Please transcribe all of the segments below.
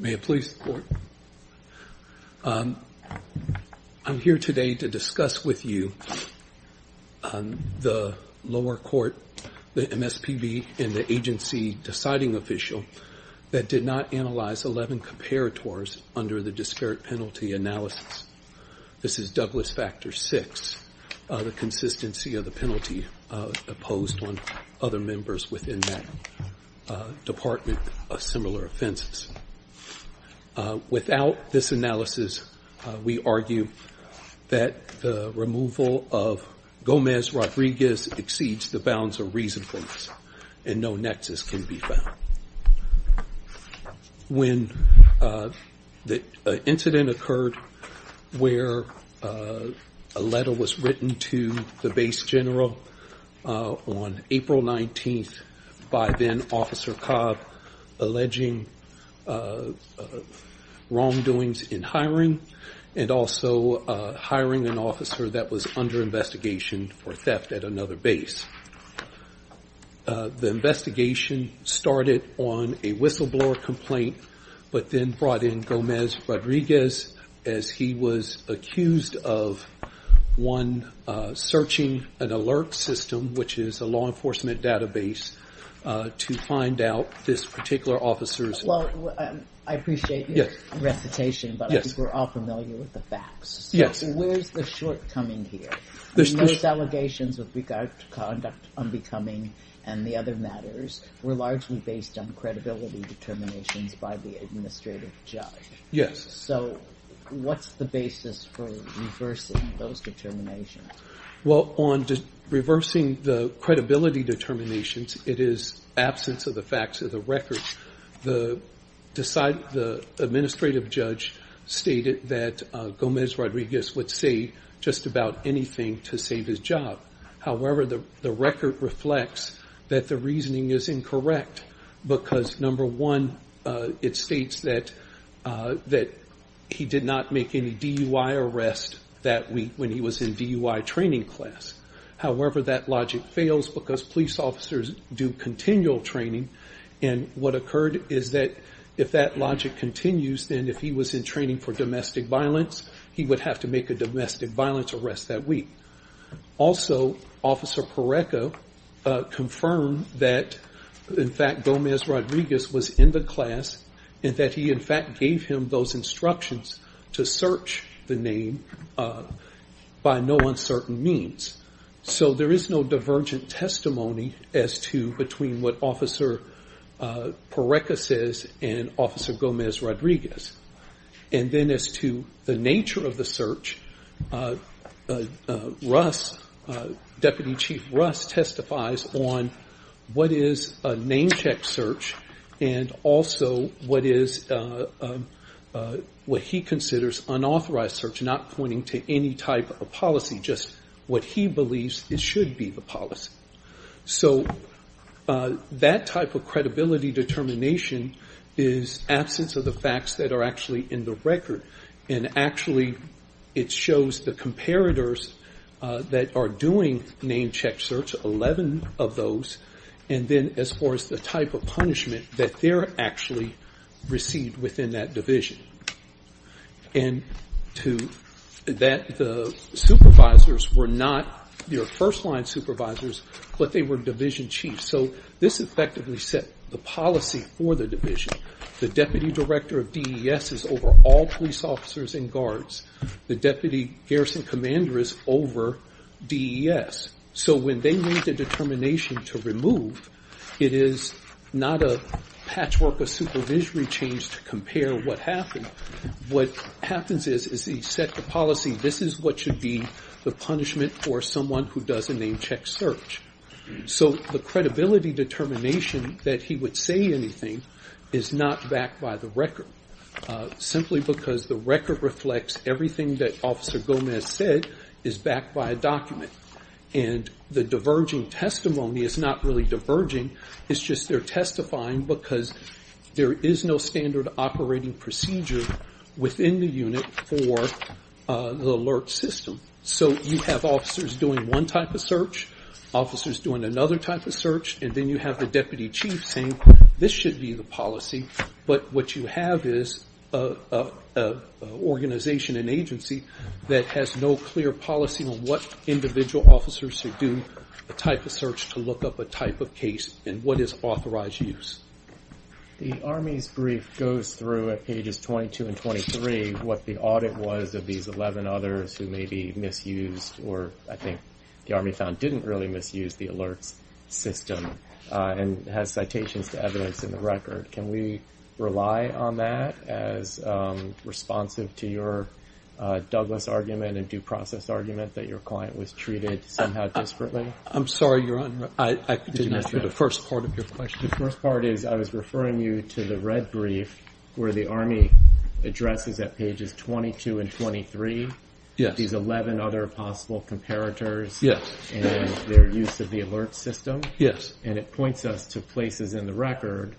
May it please the Court, I'm here today to discuss with you the lower court, the MSPB and the agency deciding official that did not analyze 11 comparators under the disparate penalty analysis. This is Douglas Factor 6, the consistency of the penalty imposed on other members within that department of similar offenses. Without this analysis, we argue that the removal of Gomez-Rodriguez exceeds the bounds of reasonableness and no nexus can be found. When the incident occurred where a letter was written to the base general on April 19th by then officer Cobb alleging wrongdoings in hiring and also hiring an officer that was under investigation for theft at another base. The investigation started on a whistleblower complaint but then brought in Gomez-Rodriguez as he was accused of one alert system which is a law enforcement database to find out this particular officer's... Well, I appreciate your reputation but I think we're all familiar with the facts. Yes. Where's the shortcoming here? Those allegations with regard to conduct unbecoming and the other matters were largely based on credibility determination by the administrative judge. Yes. So what's the basis for reversing those determinations? Well, on reversing the credibility determinations, it is absence of the facts of the records. The administrative judge stated that Gomez-Rodriguez would say just about anything to save his job. However, the record reflects that the reasoning is incorrect because number one, it states that he did not make any DUI arrest that week when he was in DUI training class. However, that logic fails because police officers do continual training and what occurred is that if that logic continues, then if he was in training for domestic violence, he would have to make a domestic violence arrest that week. Also, Officer Pareto confirmed that, in fact, Gomez-Rodriguez was in the class and that he, in fact, gave him those instructions to search the name by no uncertain means. So there is no divergent testimony as to between what Officer Pareto says and Officer Gomez-Rodriguez. And then as to the nature of the search, Deputy Chief Russ testifies on what is a name check search and also what he considers unauthorized search, not pointing to any type of policy, just what he believes it should be the policy. So that type of credibility determination is absence of the facts that are actually in the record and actually it shows the comparators that are doing name check search, 11 of those, and then as far as the type of punishment that they're actually received within that division. And that the supervisors were not, you know, first line supervisors, but they were division chiefs. So this effectively set the policy for the division. The deputy director of DES is over all police officers and guards. The deputy garrison commander is over DES. So when they made the determination to remove, it is not a patchwork of supervisory change to compare what happened. What happens is, is he set the policy, this is what should be the punishment for someone who does a name check search. So the credibility determination that he would say anything is not backed by the record, simply because the record reflects everything that officer Gomez said is backed by a document. And the diverging testimony is not really diverging, it's just they're testifying because there is no standard operating procedure within the unit for the alert system. So you have officers doing one type of search, officers doing another type of search. This should be the policy, but what you have is an organization and agency that has no clear policy on what individual officers should do, the type of search to look up a type of case, and what is authorized use. The Army's brief goes through at ages 22 and 23 what the audit was of these 11 others who may be misused, or I think the Army found didn't really misuse the alert system and had citations to evidence in the record. Can we rely on that as responsive to your Douglas argument and due process argument that your client was treated somehow discreetly? I'm sorry, your honor, I didn't answer the first part of your question. The first part is I was referring you to the red brief where the Army addresses at pages 22 and 23 these 11 other possible comparators and their use of the alert system, and it points us to places in the record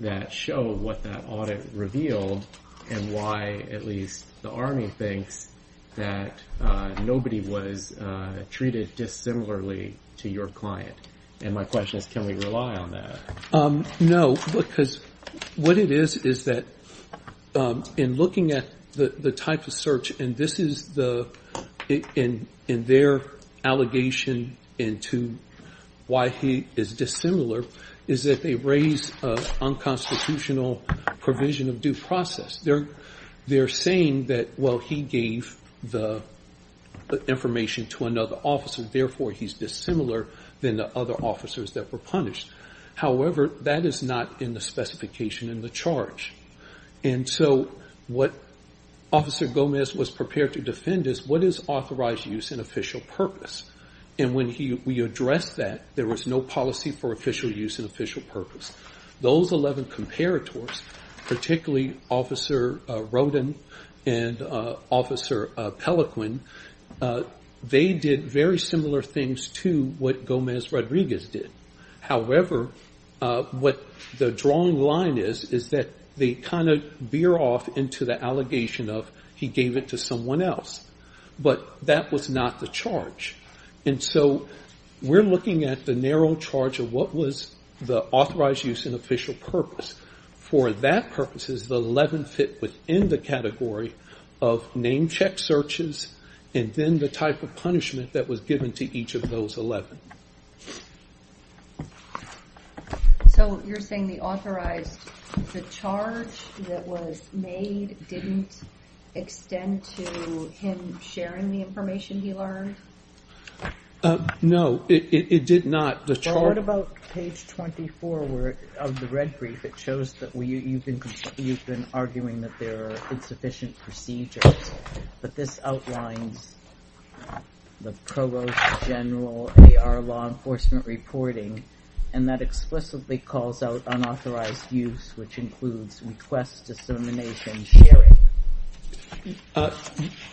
that show what that audit revealed and why at least the Army thinks that nobody was treated dissimilarly to your client. And my question is, can we rely on that? No, because what it is is that in looking at the type of search, and this is in their allegation into why he is dissimilar, is that they raise an unconstitutional provision of due process. They're saying that, well, he gave the information to another officer, therefore he's dissimilar than the other officers that were punished. However, that is not in the specification in the charge. And so what Officer Gomez was prepared to defend is what is authorized use and official purpose? And when we addressed that, there was no policy for official use and official purpose. Those 11 comparators, particularly Officer Roden and Officer Pelequin, they did very similar things to what Gomez-Rodriguez did. However, what the drawing line is is that they kind of veer off into the allegation of he gave it to someone else, but that was not the charge. And so we're looking at the narrow charge of what was the authorized use and official purpose. For that purpose, the 11 fit within the category of name check searches and then the type of punishment that was given to each of those 11. So you're saying the authorized, the charge that was made didn't extend to him sharing the information he learned? No, it did not. What about page 24 of the red brief? You've been arguing that there are insufficient procedures, but this outlines the provost general AR law enforcement reporting, and that explicitly calls out unauthorized use, which includes request, dissemination, sharing.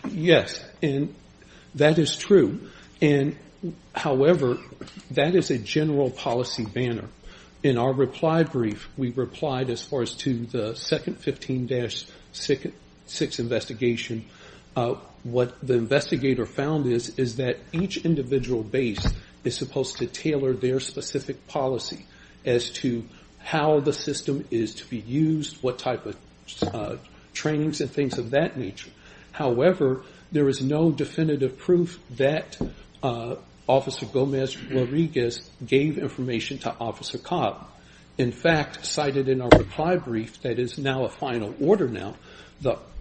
Yes, and that is true. However, that is a general policy banner. In our reply brief, we replied as far as to the second 15-6 investigation, what the investigator found is that each individual base is supposed to tailor their specific policy as to how the system is to be used, what type of trainings and things of that nature. However, there is no definitive proof that cited in our reply brief that is now a final order now.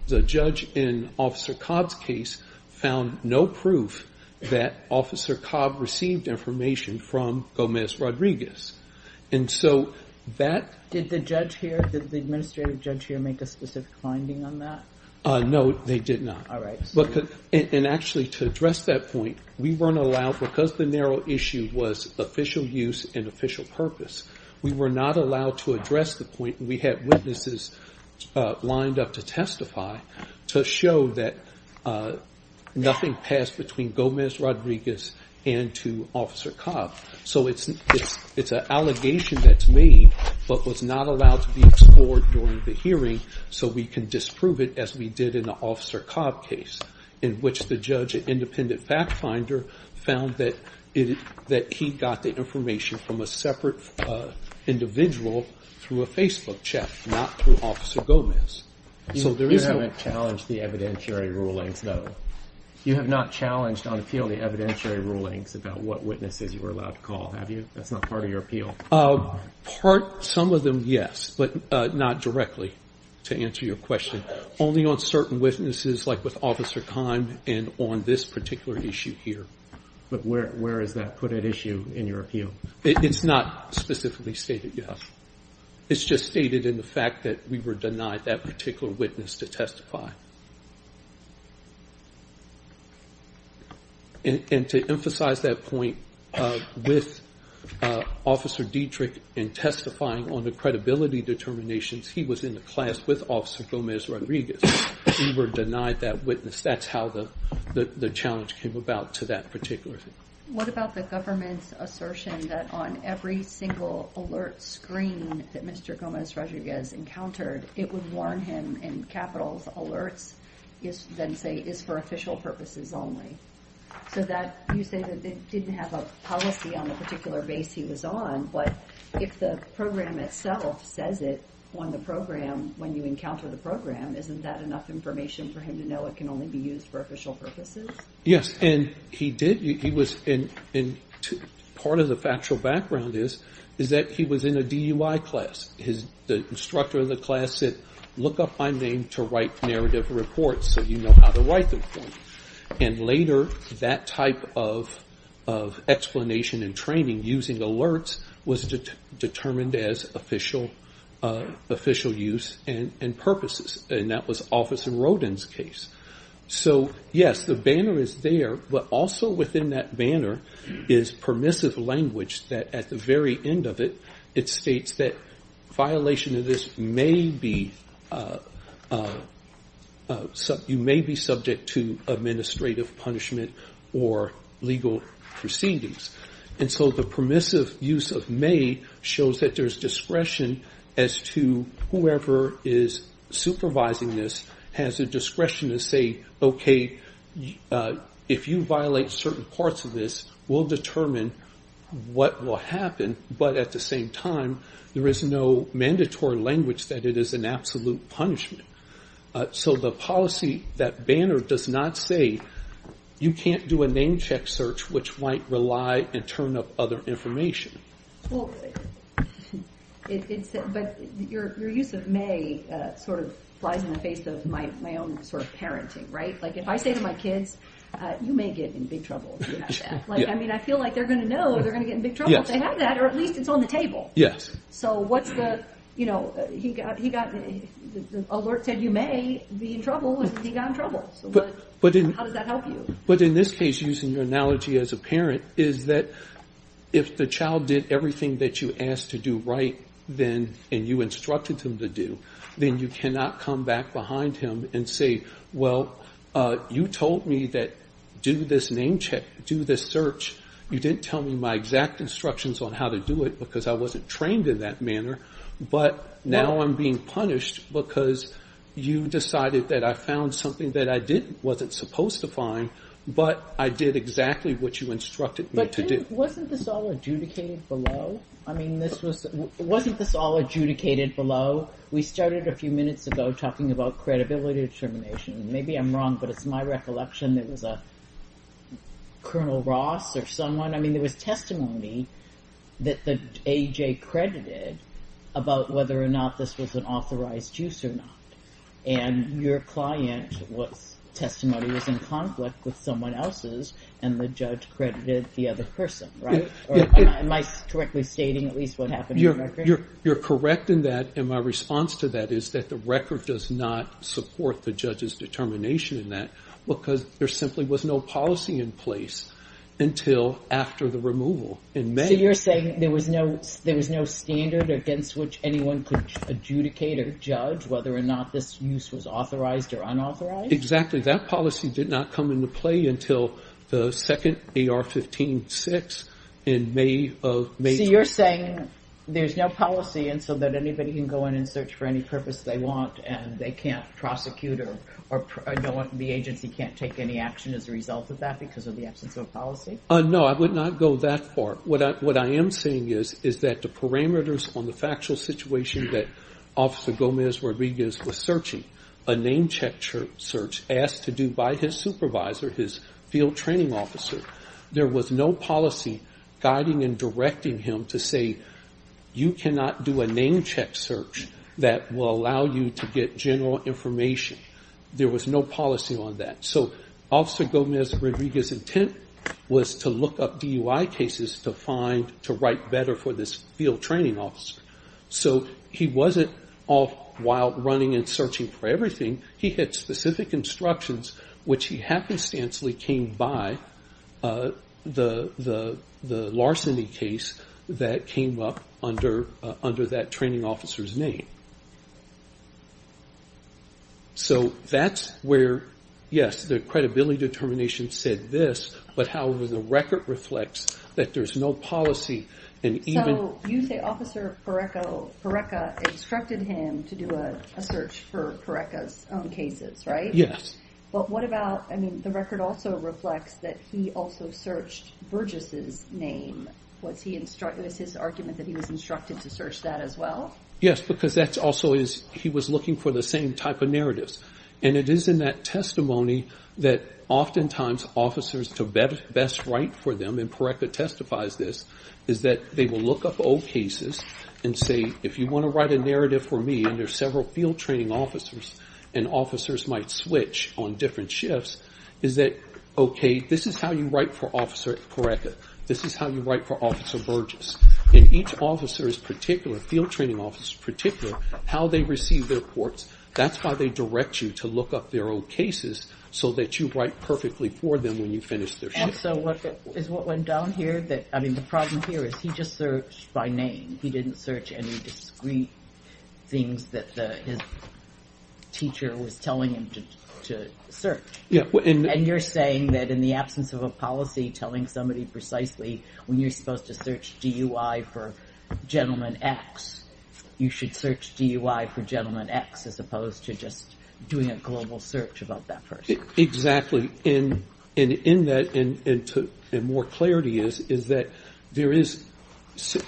The judge in Officer Cobb's case found no proof that Officer Cobb received information from Gomez Rodriguez. Did the judge here, did the administrative judge here make a specific finding on that? No, they did not. Actually, to address that point, we weren't allowed, because the narrow issue was official use and official purpose. We were not allowed to address the point, and we had witnesses lined up to testify to show that nothing passed between Gomez Rodriguez and to Officer Cobb. So it's an allegation that's made, but was not allowed to be explored during the hearing, so we can disprove it as we did in the Officer Cobb case, in which the judge at Independent Fact found that he got the information from a separate individual through a Facebook chat, not through Officer Gomez. You have not challenged the evidentiary ruling, though? You have not challenged on appeal the evidentiary ruling about what witnesses you were allowed to call, have you? That's not part of your appeal? Part, some of them, yes, but not directly, to answer your question. Only on certain witnesses, like with Officer Cobb and on this particular issue here. But where is that put at issue in your appeal? It's not specifically stated yet. It's just stated in the fact that we were denied that particular witness to testify. And to emphasize that point, with Officer Dietrich and testifying on the credibility determinations, he was in a class with Officer Gomez Rodriguez. He were denied that witness. That's how the challenge came about to that particular thing. What about the government's assertion that on every single alert screen that Mr. Gomez Rodriguez encountered, it would warn him in capital alert, then say it's for official purposes only. So that, you say that it didn't have a policy on the particular base he was on, but if the program itself says it on the program when you encounter the program, isn't that enough information for him to know it can only be used for official purposes? Yes, and he did. He was in, and part of the factual background is, is that he was in a DUI class. His, the instructor in the class said, look up my name to write narrative reports so you know how to write them. And later, that type of explanation and training using alerts was determined as official use and purposes, and that was Officer Rodin's case. So yes, the banner is there, but also within that banner is permissive language that at the very end of it, it states that violation of this may be, you may be subject to administrative punishment or legal proceedings. And so the permissive use of may shows that there's discretion as to whoever is supervising this has a discretion to say, okay, if you violate certain parts of this, we'll determine what will happen, but at the same time, there is no mandatory language that it is an absolute punishment. So the policy that banner does not say, you can't do a name check search, which might rely and turn up other information. Well, but your use of may sort of slides in the face of my own sort of parenting, right? Like if I say to my kids, you may get in big trouble. I mean, I feel like they're going to know they're going to get in big trouble if they have that, or at least it's on the table. So what's the, you know, he got an alert that you may be in trouble, and he got in trouble. How does that help you? But in this case, using your analogy as a parent is that if the child did everything that you asked to do right then, and you instructed them to do, then you cannot come back behind him and say, well, you told me that do this name check, do this search. You didn't tell me my exact instructions on how to do it because I wasn't trained in that manner. But now I'm being punished because you decided that I found something that I didn't, wasn't supposed to find, but I did exactly what you instructed me to do. Wasn't this all adjudicated below? I mean, this was, wasn't this all adjudicated below? We started a few minutes ago talking about credibility determination. Maybe I'm wrong, but it's my recollection there was a Colonel Ross or someone, I mean, there was testimony that the AJ credited about whether or not this was an authorized use or not. And your client what testimony was in conflict with someone else's, and the judge credited the other person, right? Am I correctly stating at least what happened? You're correct in that. And my response to that is that the record does not support the judge's because there simply was no policy in place until after the removal in May. So you're saying there was no, there was no standard against which anyone could adjudicate or judge whether or not this use was authorized or unauthorized? Exactly. That policy did not come into play until the second AR-15-6 in May of May. You're saying there's no policy and so that anybody can go in and search for any purpose they want and they can't prosecute or the agency can't take any action as a result of that because of the absence of a policy? No, I would not go that far. What I am saying is that the parameters on the factual situation that Officer Gomez Rodriguez was searching, a name check search asked to do by his supervisor, his field training officer, there was no policy guiding and directing him to say you cannot do a name check search that will allow you to get general information. There was no policy on that. So Officer Gomez Rodriguez's intent was to look up DUI cases to find, to write better for this field training officer. So he wasn't off wild running and searching for everything. He had specific instructions which he happenstancely came by the larceny case that came up under that training officer's name. So that's where, yes, the credibility determination said this, but however, the record reflects that there's no policy. So you say Officer Pareca instructed him to do a search for Pareca's own cases, right? Yes. But what about, I mean, the record also reflects that he also searched Burgess's name. Was he, with his argument that he was instructed to search that as well? Yes, because that's also, he was looking for the same type of narratives. And it is in that testimony that oftentimes officers to best write for them, and Pareca testifies this, is that they will look up old cases and say if you want to write a narrative for me, and there's several field training officers, and officers might switch on different shifts, is that, okay, this is how you write for Officer Pareca. This is how you write for each officer's particular, field training officer's particular, how they receive their reports. That's why they direct you to look up their own cases so that you write perfectly for them when you finish their search. And so what, is what went down here that, I mean, the problem here is he just searched by name. He didn't search any discreet things that his teacher was telling him to search. Yeah. And you're saying that in the absence of a policy telling somebody precisely when you're going to search DUI for Gentleman X, you should search DUI for Gentleman X as opposed to just doing a global search about that person. Exactly. And in that, and more clarity is, is that there is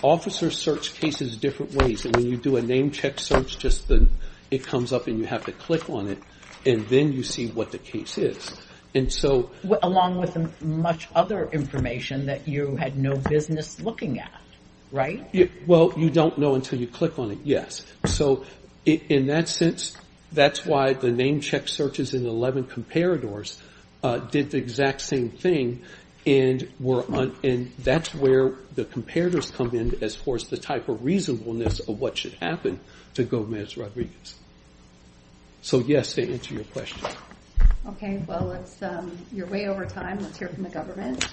officer search cases different ways. And when you do a name check search, just the, it comes up and you have to click on it, and then you see what the case is. And so, along with much other information that you had no business looking at, right? Well, you don't know until you click on it. Yes. So in that sense, that's why the name check searches in the 11 comparators did the exact same thing. And we're on, and that's where the comparators come in as far as the type of reasonableness of what should happen to go administer our readings. So yes, they answer your question. Okay. Well, it's, um, you're way over time. Let's hear from the government.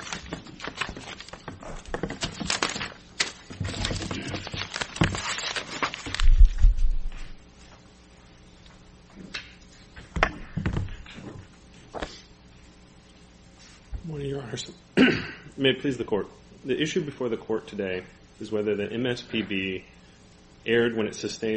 May I please the court? The issue before the court today is whether the MSPB aired when it based on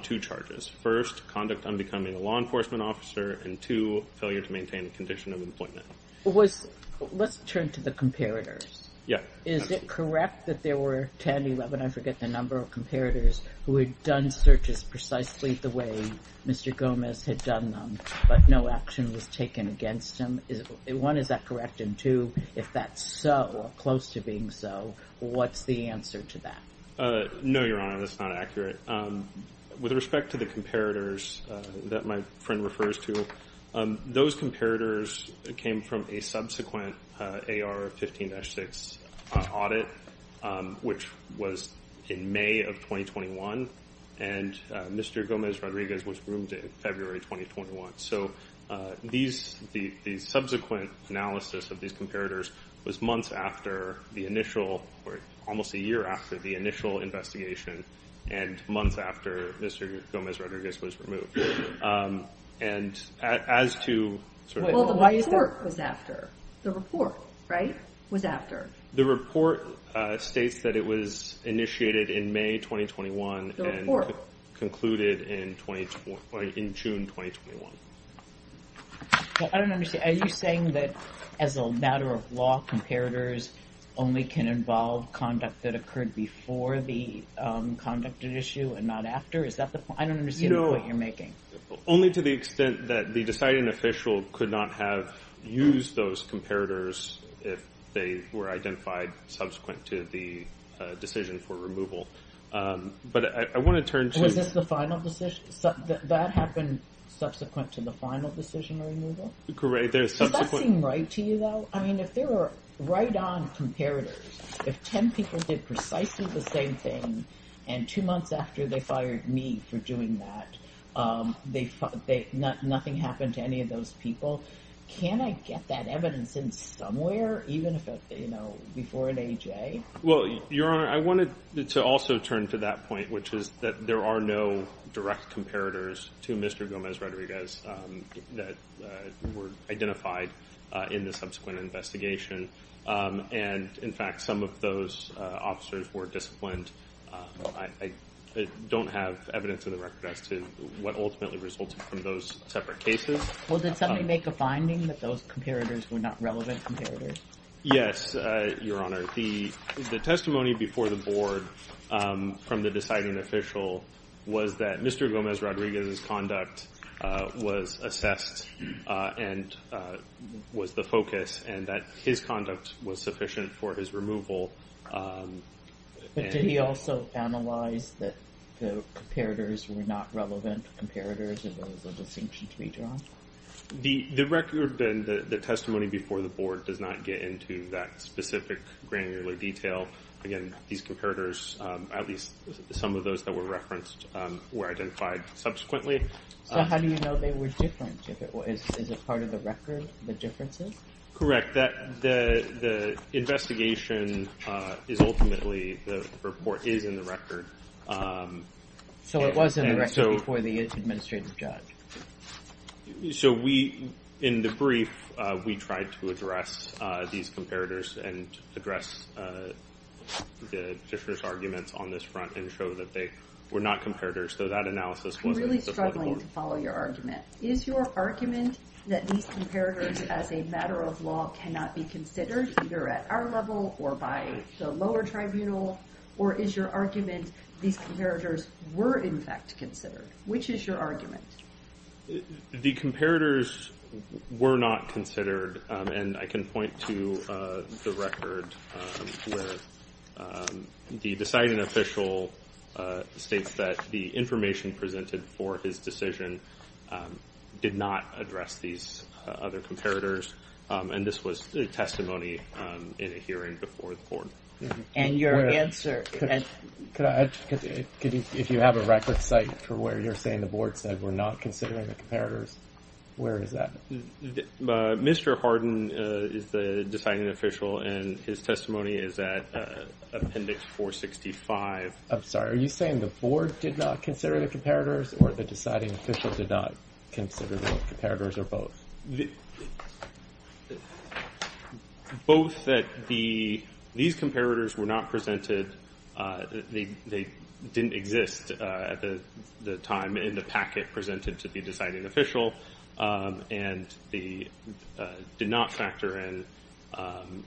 two charges. First, conduct on becoming a law enforcement officer, and two, failure to maintain the condition of employment. Let's turn to the comparators. Yeah. Is it correct that there were 10, 11, I forget the number of comparators who had done searches precisely the way Mr. Gomez had done them, but no action was taken against him? One, is that correct? And two, if that's so, or close to being so, what's the answer to that? No, Your Honor, that's not accurate. With respect to the comparators that my friend refers to, those comparators came from a subsequent AR 15-6 audit, which was in May of 2021, and Mr. Gomez Rodriguez was groomed in February 2021. So these, the subsequent analysis of these after the initial, or almost a year after the initial investigation, and a month after Mr. Gomez Rodriguez was removed. And as to... The report was after. The report, right, was after. The report states that it was initiated in May 2021, and concluded in June 2021. I don't understand. Are you saying that as a matter of law, comparators only can involve conduct that occurred before the conducted issue and not after? Is that the point? I don't understand the point you're making. Only to the extent that the deciding official could not have used those comparators if they were identified subsequent to the decision for removal. But I want to turn to... Was this the final decision? That happened subsequent to the final decision removal? Correct. There's... Does that seem right to you, though? I mean, if there were right on comparators, if 10 people did precisely the same thing, and two months after they fired me for doing that, nothing happened to any of those people, can I get that evidence in somewhere, even if it's, you know, before an AJ? Well, Your Honor, I wanted to also turn to that point, which is that there are no direct comparators to Mr. Gomez-Rodriguez that were identified in the subsequent investigation. And, in fact, some of those officers were disciplined. I don't have evidence in the record as to what ultimately resulted from those separate cases. Well, did somebody make a finding that those comparators were not relevant comparators? Yes, Your Honor. The testimony before the Board from the deciding official was that Mr. Gomez-Rodriguez's conduct was assessed and was the focus, and that his conduct was sufficient for his removal. But did he also analyze that the comparators were not relevant comparators in the case of St. Pete's Redrawal? The record then, the testimony before the Board, does not get into that specific granular detail. Again, these comparators, at least some of those that were referenced, were identified subsequently. So how do you know they were different? Is it part of the record, the differences? Correct. The investigation is ultimately, the report is in the record. So it was in the record before the administrative judge. So we, in the brief, we tried to address these comparators and address the different arguments on this front and show that they were not comparators. So that analysis was really struggling to follow your argument. Is your argument that these comparators, as a matter of law, cannot be considered either at our level or by the lower tribunal? Or is your argument these comparators were in fact considered? Which is your argument? The comparators were not considered. And I can point to the record where the deciding official states that the information presented for his decision did not address these other comparators. And this was testimony in a hearing before the Board. And your answer? If you have a record site for where you're saying the Board said we're not considering the comparators, where is that? Mr. Hardin is the deciding official and his testimony is at Appendix 465. I'm sorry, are you saying the Board did not consider the comparators or the deciding official did not consider the comparators or both? Both. Both that these comparators were not presented. They didn't exist at the time in the packet presented to the deciding official. And they did not factor in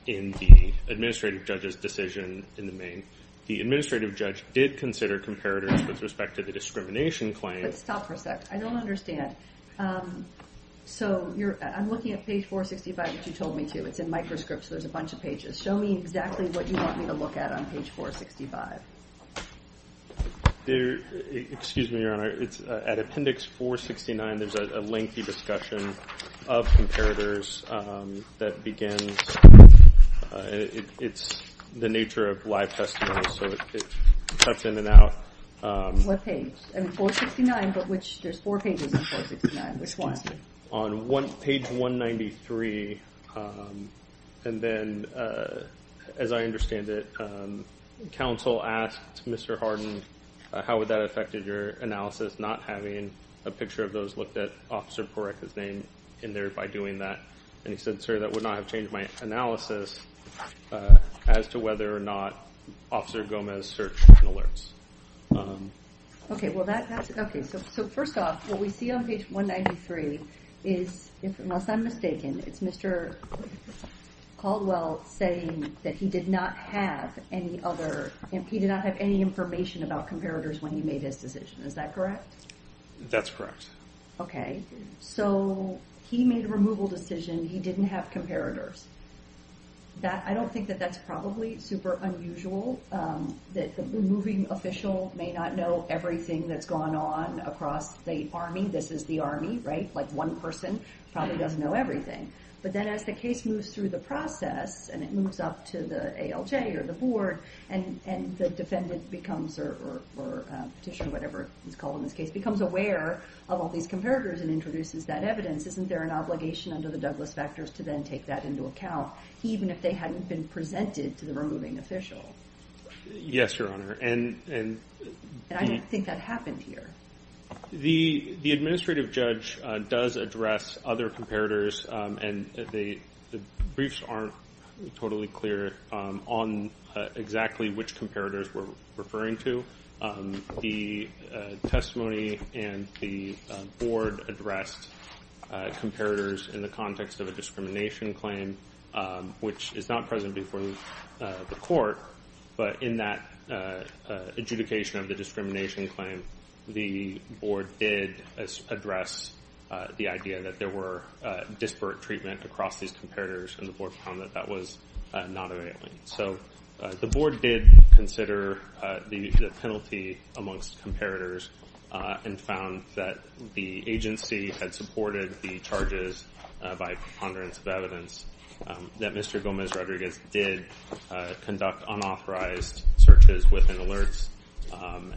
the administrative judge's decision in the main. The administrative judge did consider comparators with respect to discrimination claims. I don't understand. So I'm looking at page 465 as you told me to. It's in microscripts. There's a bunch of pages. Show me exactly what you want me to look at on page 465. Excuse me, Your Honor. At Appendix 469, there's a lengthy discussion of comparators that begins. It's the nature of live testimony. So it cuts in and out. What page? 469, but there's four pages in 469. Which one? On page 193, and then as I understand it, counsel asked Mr. Hardin, how would that affect your analysis not having a picture of those looked at, Officer, correct his name in there by doing that. And he said, sorry, that would not have changed my analysis as to whether or not to search for alerts. Okay. So first off, what we see on page 193 is, if I'm not mistaken, it's Mr. Caldwell saying that he did not have any other, he did not have any information about comparators when he made his decision. Is that correct? That's correct. Okay. So he made a removal decision. He didn't have comparators. I don't think that that's probably super unusual that the removing official may not know everything that's gone on across the Army. This is the Army, right? Like one person probably doesn't know everything. But then as the case moves through the process, and it moves up to the ALJ or the board, and the defendant becomes, or petition, whatever it's called in this case, becomes aware of all these comparators and introduces that evidence, isn't there an obligation under the Douglas factors to then take that into account, even if they hadn't been presented to the removing official? Yes, Your Honor. And I don't think that happened here. The administrative judge does address other comparators, and the briefs aren't totally clear on exactly which comparators we're referring to. The testimony and the board addressed comparators in the context of a discrimination claim, which is not present before the court. But in that adjudication of the discrimination claim, the board did address the idea that there were disparate treatment across these comparators, and the board found that that was not available. So the board did consider the penalty amongst comparators and found that the agency had supported the charges by preponderance of evidence, that Mr. Gomez Rodriguez did conduct unauthorized searches with an alert,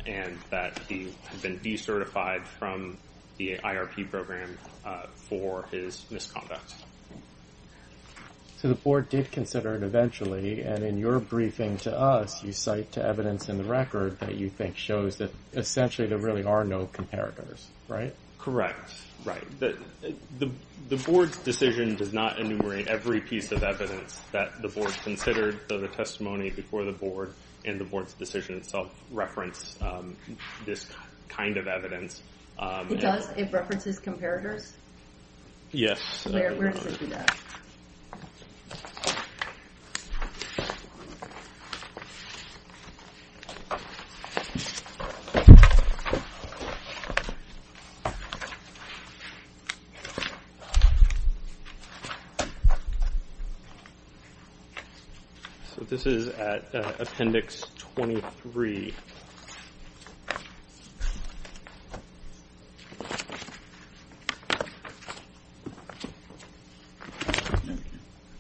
and that he had been decertified from the IRP program for his misconduct. So the board did consider it eventually, and in your briefing to us, you cite evidence in the record that you think shows that essentially there really are no comparators, right? Correct. Right. The board's decision does not enumerate every piece of evidence that the board considered, so the testimony before the board and the board's self-reference this kind of evidence. It does? It references comparators? Yes. There it is. So this is at appendix 23.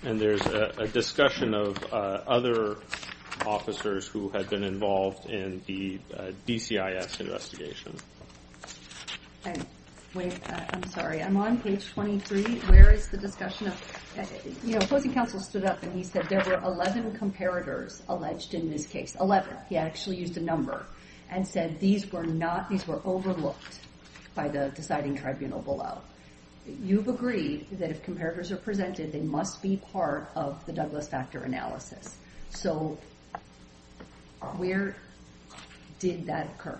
And there's a discussion of other officers who have been involved in the DCIF's investigation. And wait, I'm sorry. I'm on page 23. Where is the discussion of, you know, Floyd DeCampo stood up and he said there were 11 comparators alleged in this case, 11. He actually used a number and said these were not, these were overlooked by the deciding tribunal below. You've agreed that if comparators are presented, they must be part of the doublet factor analysis. So where did that occur?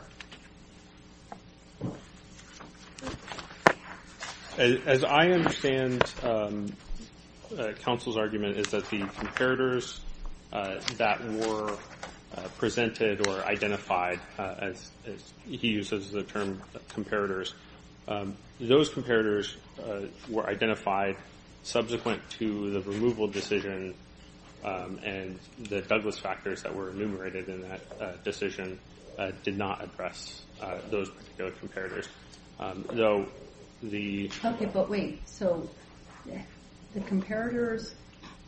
As I understand counsel's argument is that the comparators that were presented or identified, as he uses the term comparators, those comparators were identified subsequent to the removal decision and the doublet factors that were enumerated in that decision did not impress those comparators. Okay, but wait. So the comparators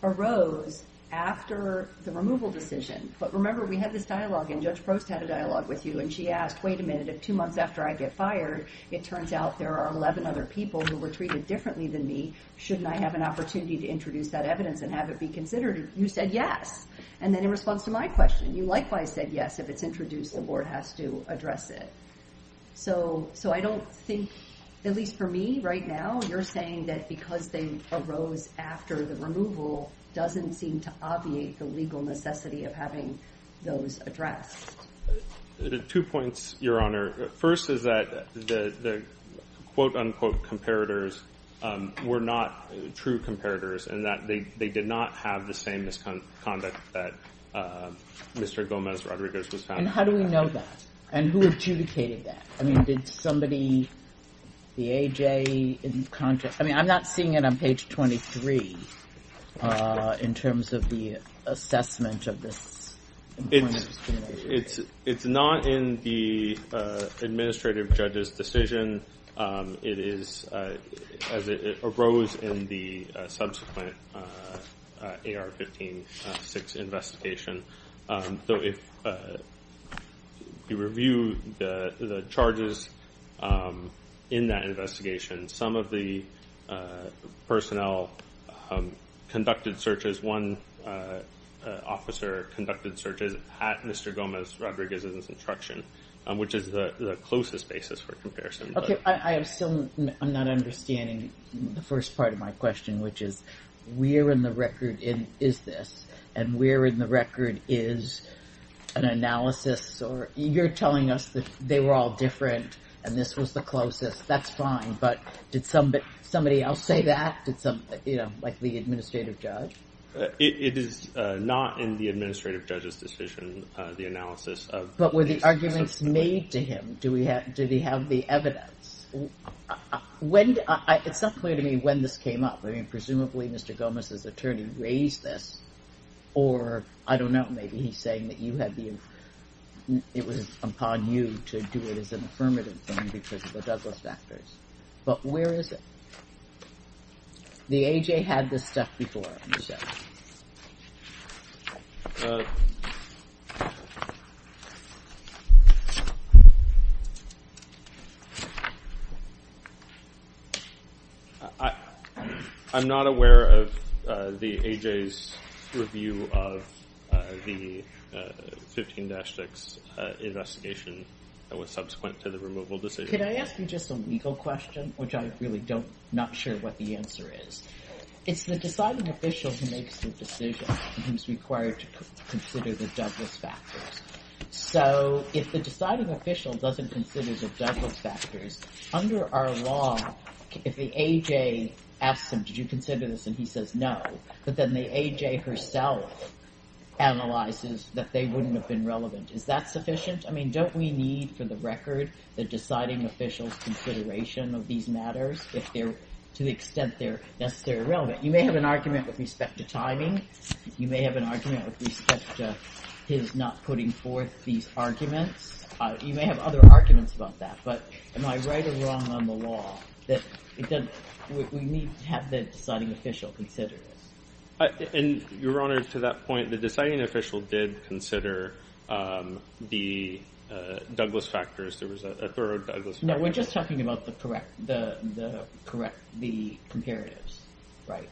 arose after the removal decision, but remember we had this dialogue and Judge Post had a dialogue with you and she asked, wait a minute, two months after I get fired, it turns out there are 11 other people who were treated differently than me. Shouldn't I have an opportunity to introduce that evidence and have it be considered? You said yes. And then in response to my question, you likewise said yes, if it's introduced, the board has to address it. So I don't think, at least for me right now, you're saying that because they arose after the removal doesn't seem to obviate the legal necessity of having those addressed. Two points, Your Honor. First is that the quote unquote comparators were not true comparators and that they did not have the same misconduct that Mr. Gomez Rodriguez was talking about. And how do we know that? And who adjudicated that? I mean, did somebody, the AJ in contrast, I mean, I'm not seeing it on page 23 in terms of the assessment of this. It's not in the administrative judge's decision. It is as it arose in the subsequent AR-15-6 investigation. So if you review the charges in that investigation, some of the personnel conducted searches, one officer conducted searches at Mr. Gomez Rodriguez's instruction, which is the closest basis for comparison. Okay. I'm still not understanding the first part of my question, which is where in the record is this? And where in the record is an analysis or you're telling us that they were all different and this was the closest. That's fine. But did somebody else say that? Like the administrative judge? It is not in the administrative judge's decision, the analysis of... But were the arguments made to him? Did he have the evidence? It's not clear to me when this came up. I mean, presumably Mr. Gomez's attorney raised this or I don't know, maybe he's saying that it was upon you to do it as an affirmative thing because of the Douglas factors. But where is it? The AJ had this stuff before, I'm sure. I'm not aware of the AJ's review of the 15-6 investigation that was subsequent to the removal decision. Can I ask you just a legal question, which I really don't, not sure what the answer is. It's the deciding official who makes the decision who's required to consider the Douglas factors. So if the deciding official doesn't consider the Douglas factors, under our law, if the AJ asks them, did you consider this? And he says no. But then the AJ herself analyzes that they wouldn't have been relevant. Is that sufficient? I mean, don't we need for the record the deciding official's consideration of these matters if they're, to the extent they're necessarily relevant? You may have an argument with respect to timing. You may have an argument with respect to his not putting forth these arguments. You may have other arguments about that. But am I right or wrong on the law that we need to have the deciding official consider it? And Your Honor, to that point, the deciding official did consider the Douglas factors, there was a third Douglas factor. No, we're just talking about the correct, the comparatives, right?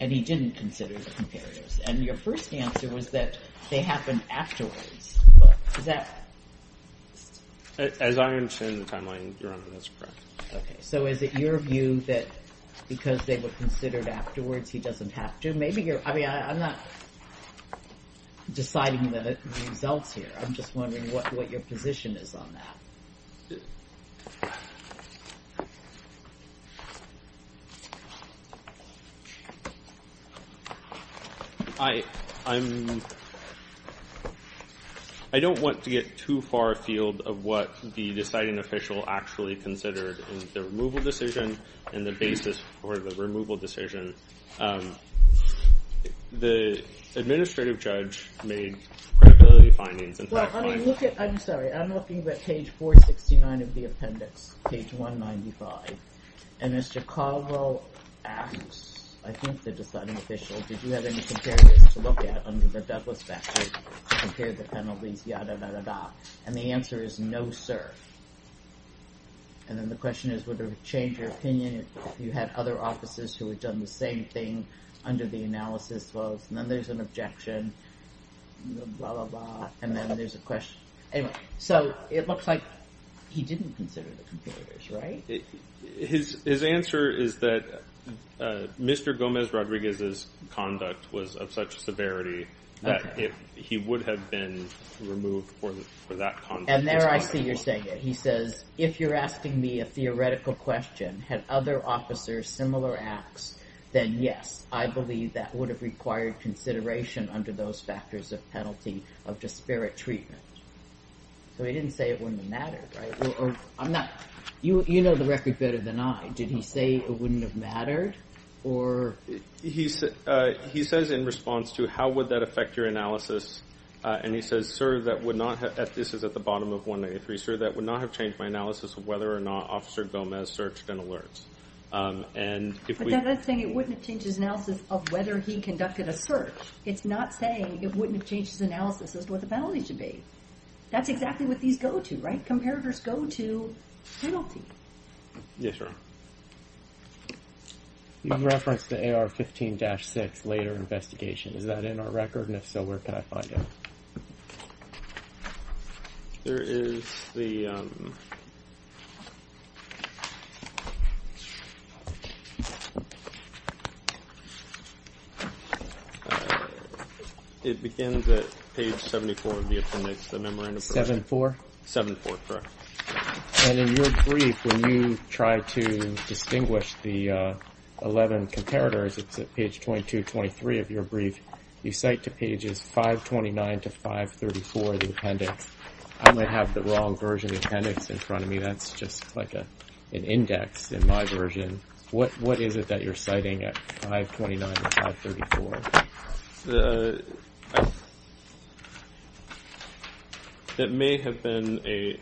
And he didn't consider the comparatives. And your first answer was that they happened afterwards. Well, is that? As I understand the timeline, Your Honor, that's correct. Okay. So is it your view that because they were considered afterwards, he doesn't have to? Maybe you're, I mean, I'm not deciding whether it's a result here. I'm just wondering what your position is on that. I don't want to get too far afield of what the deciding official actually considered in the removal decision and the basis for the removal decision. The administrative judge made credibility findings. I'm sorry, I'm looking at page 469 of the appendix, page 195. And Mr. Caldwell asks, I think the deciding official, did you have any comparatives to look at under the Douglas factors to compare the penalties? And the answer is no, sir. And then the question is, would it change your opinion if you had other officers who had done the same thing under the analysis of, and then there's an objection, and then there's a question. So it looks like he didn't consider the comparatives, right? His answer is that Mr. Gomez Rodriguez's conduct was of such severity that he would have been removed for that. And there I see you're saying it. He says, if you're asking me a theoretical question, had other officers similar acts, then yes, I believe that would have required consideration under those factors of penalty of disparate treatment. So he didn't say it wouldn't have mattered. You know the record better than I. Did he say it wouldn't have mattered? He says in response to how would that affect your analysis, and he says, sir, that would not have, this is at the bottom of 183, sir, that would not have changed my analysis of whether or not officer Gomez searched and alerts. And if we. But that's saying it wouldn't have changed his analysis of whether he conducted a search. It's not saying it wouldn't have changed his analysis of what the penalties should be. That's exactly what these go to, right? Comparatives go to penalties. Yes, ma'am. You referenced the AR15-6 later investigation. Is that in our record? It begins at page 74 of the appendix. 74? 74, correct. And in your brief, when you try to distinguish the 11 comparators, it's at page 22, 23 of your brief, you cite to pages 529 to 534 of the appendix. I'm going to have the wrong version of the appendix in front of me. Just like an index in my version. What is it that you're citing at 529 to 534? It may have been a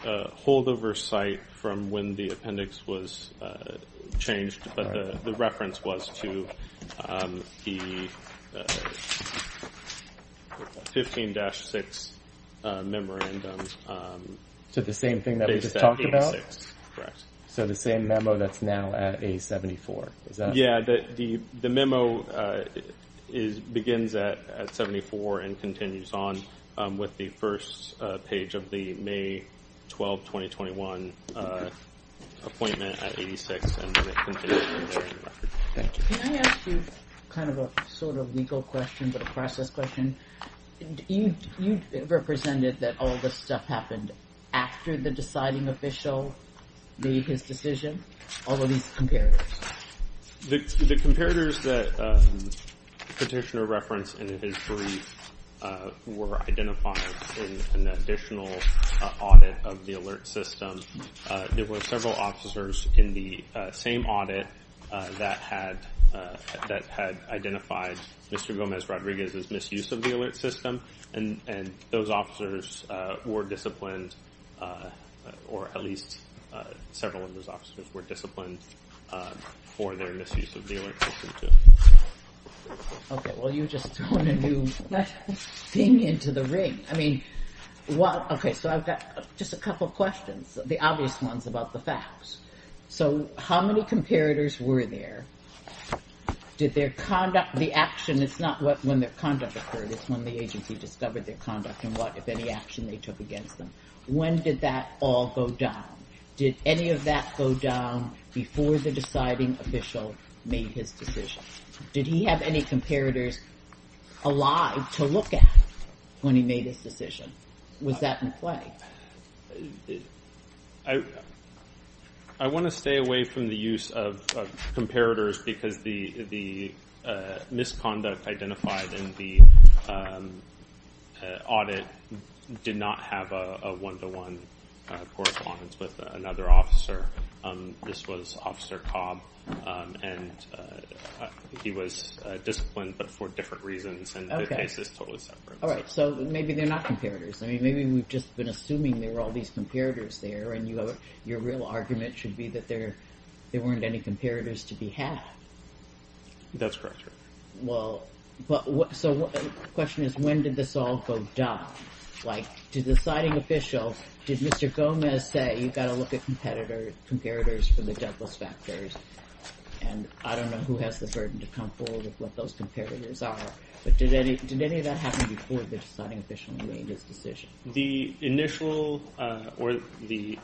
holdover site from when the appendix was changed, but the reference was to the 15-6 memorandum. So the same thing that we just talked about? Correct. So the same memo that's now at page 74? Yeah, the memo begins at 74 and continues on with the first page of the May 12, 2021 appointment at 86. Can I ask you kind of a sort of legal question, but a process question? You represented that all of this stuff happened after the deciding official made his decision. All of these comparatives? The comparatives that Petitioner referenced in his brief were identified in an additional audit of the alert system. There were several officers in the same audit that had identified Mr. Gomez-Rodriguez's misuse of the alert system, and those officers were disciplined, or at least several of those officers were disciplined for their misuse of the alert system. Okay. Well, you're just throwing a new thing into the rig. I mean, okay, so I've got just a couple of questions, the obvious ones about the facts. So how many comparatives were there? Did their conduct, the action, it's not when their conduct occurred, it's when the agency discovered their conduct and what, if any, action they took against them. When did that all go down? Did any of that go down before the deciding official made his decision? Did he have any comparatives alive to look at when he made his decision? Was that in play? I want to stay away from the use of comparatives because the misconduct identified in the audit did not have a one-to-one correspondence with another officer. This was Officer Cobb, and he was disciplined, but for different reasons. Okay. All right, so maybe they're not comparatives. I mean, maybe we've just been assuming there were all these comparatives there, and your real argument should be that there weren't any comparatives to be had. That's correct, sir. Well, so the question is, when did this all go down? Like, did the deciding official, did Mr. Gomez say, you've got to look at comparatives for the double factors, and I don't know who has the burden to come forward with what those comparatives are, but did any of that happen before the deciding official made his decision? The initial or the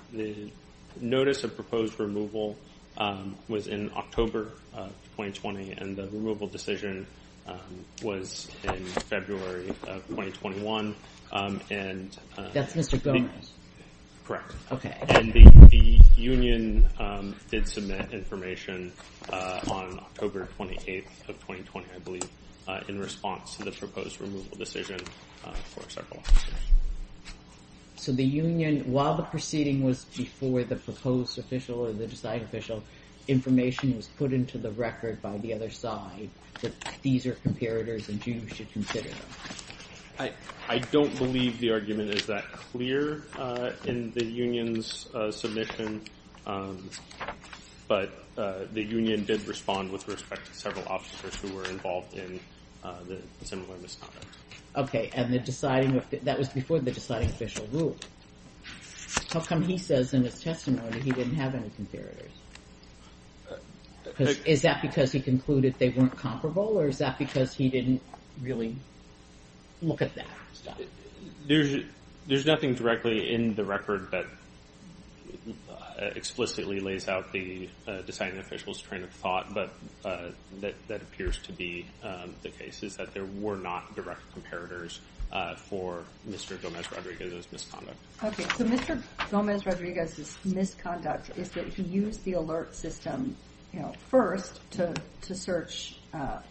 notice of proposed removal was in October of 2020, and the removal decision was in February of 2021. That's Mr. Gomez? Correct. Okay. And the union did submit information on October 28th of 2020, I believe, in response to the proposed removal decision. So the union, while the proceeding was before the proposed official or the deciding official, information was put into the record by the other side that these are comparatives, and you should consider them. I don't believe the argument is that clear in the union's submission, but the union did respond with respect to several officers who were involved in the similar misconduct. Okay, and the deciding, that was before the deciding official rule. How come he says in his testimony that he didn't have any comparatives? Is that because he concluded they weren't comparable, or is that because he didn't really look at that? There's nothing directly in the record that explicitly lays out the deciding official's train of thought, but that appears to be the case, is that there were not direct comparatives for Mr. Gomez-Rodriguez's misconduct. Okay, so Mr. Gomez-Rodriguez's misconduct is that he used the alert system first to search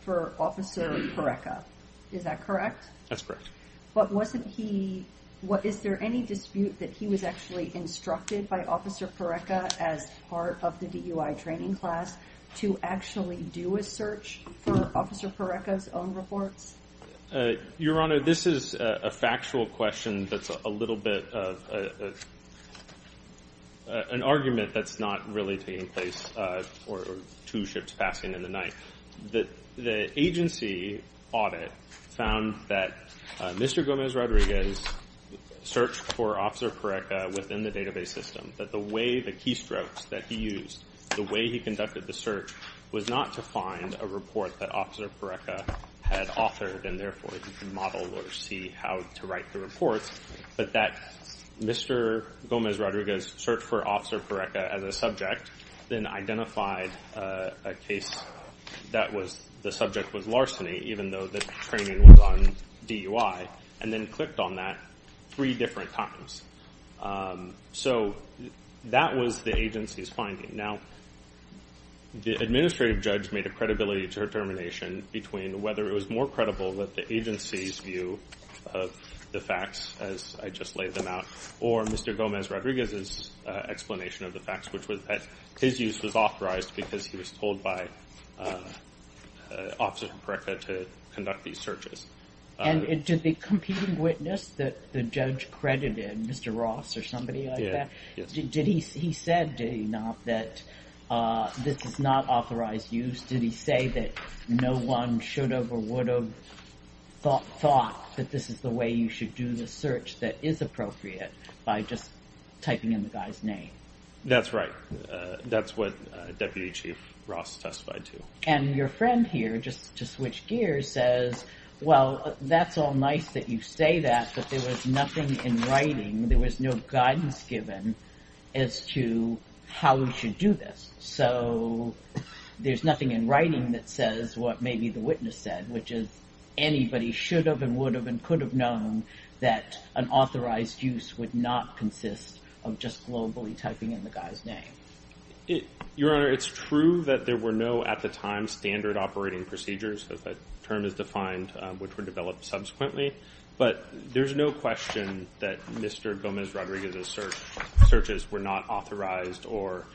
for Officer Pareca. Is that correct? That's correct. But wasn't he, is there any dispute that he was actually instructed by Officer Pareca as part of the report? Your Honor, this is a factual question that's a little bit of an argument that's not really being placed for two ships passing in the night. The agency audit found that Mr. Gomez-Rodriguez searched for Officer Pareca within the database system, but the way the keystrokes that he used, the way he conducted the search was not to find a report that Officer Pareca had authored, and therefore he could model or see how to write the report, but that Mr. Gomez-Rodriguez's search for Officer Pareca as a subject then identified a case that was, the subject was larceny, even though the training was on DUI, and then clicked on that three different times. So that was the agency's finding. Now, the administrative judge made a determination between whether it was more credible with the agency's view of the facts, as I just laid them out, or Mr. Gomez-Rodriguez's explanation of the facts, which was that his use was authorized because he was told by Officer Pareca to conduct these searches. And did the competing witness that the judge credited, Mr. Ross or somebody like that, did he, he said, that this is not authorized use? Did he say that no one should have or would have thought that this is the way you should do the search that is appropriate by just typing in the guy's name? That's right. That's what Deputy Chief Ross testified to. And your friend here, just to switch gears, says, well, that's all nice that you say that, but there was nothing in writing, there was no guidance given as to how we should do this. So there's nothing in writing that says what maybe the witness said, which is anybody should have and would have and could have known that an authorized use would not consist of just globally typing in the guy's name. Your Honor, it's true that there were no, at the time, standard operating procedures. That term is defined, which were developed subsequently. But there's no question that Mr. Gomez Rodriguez's searches were not authorized or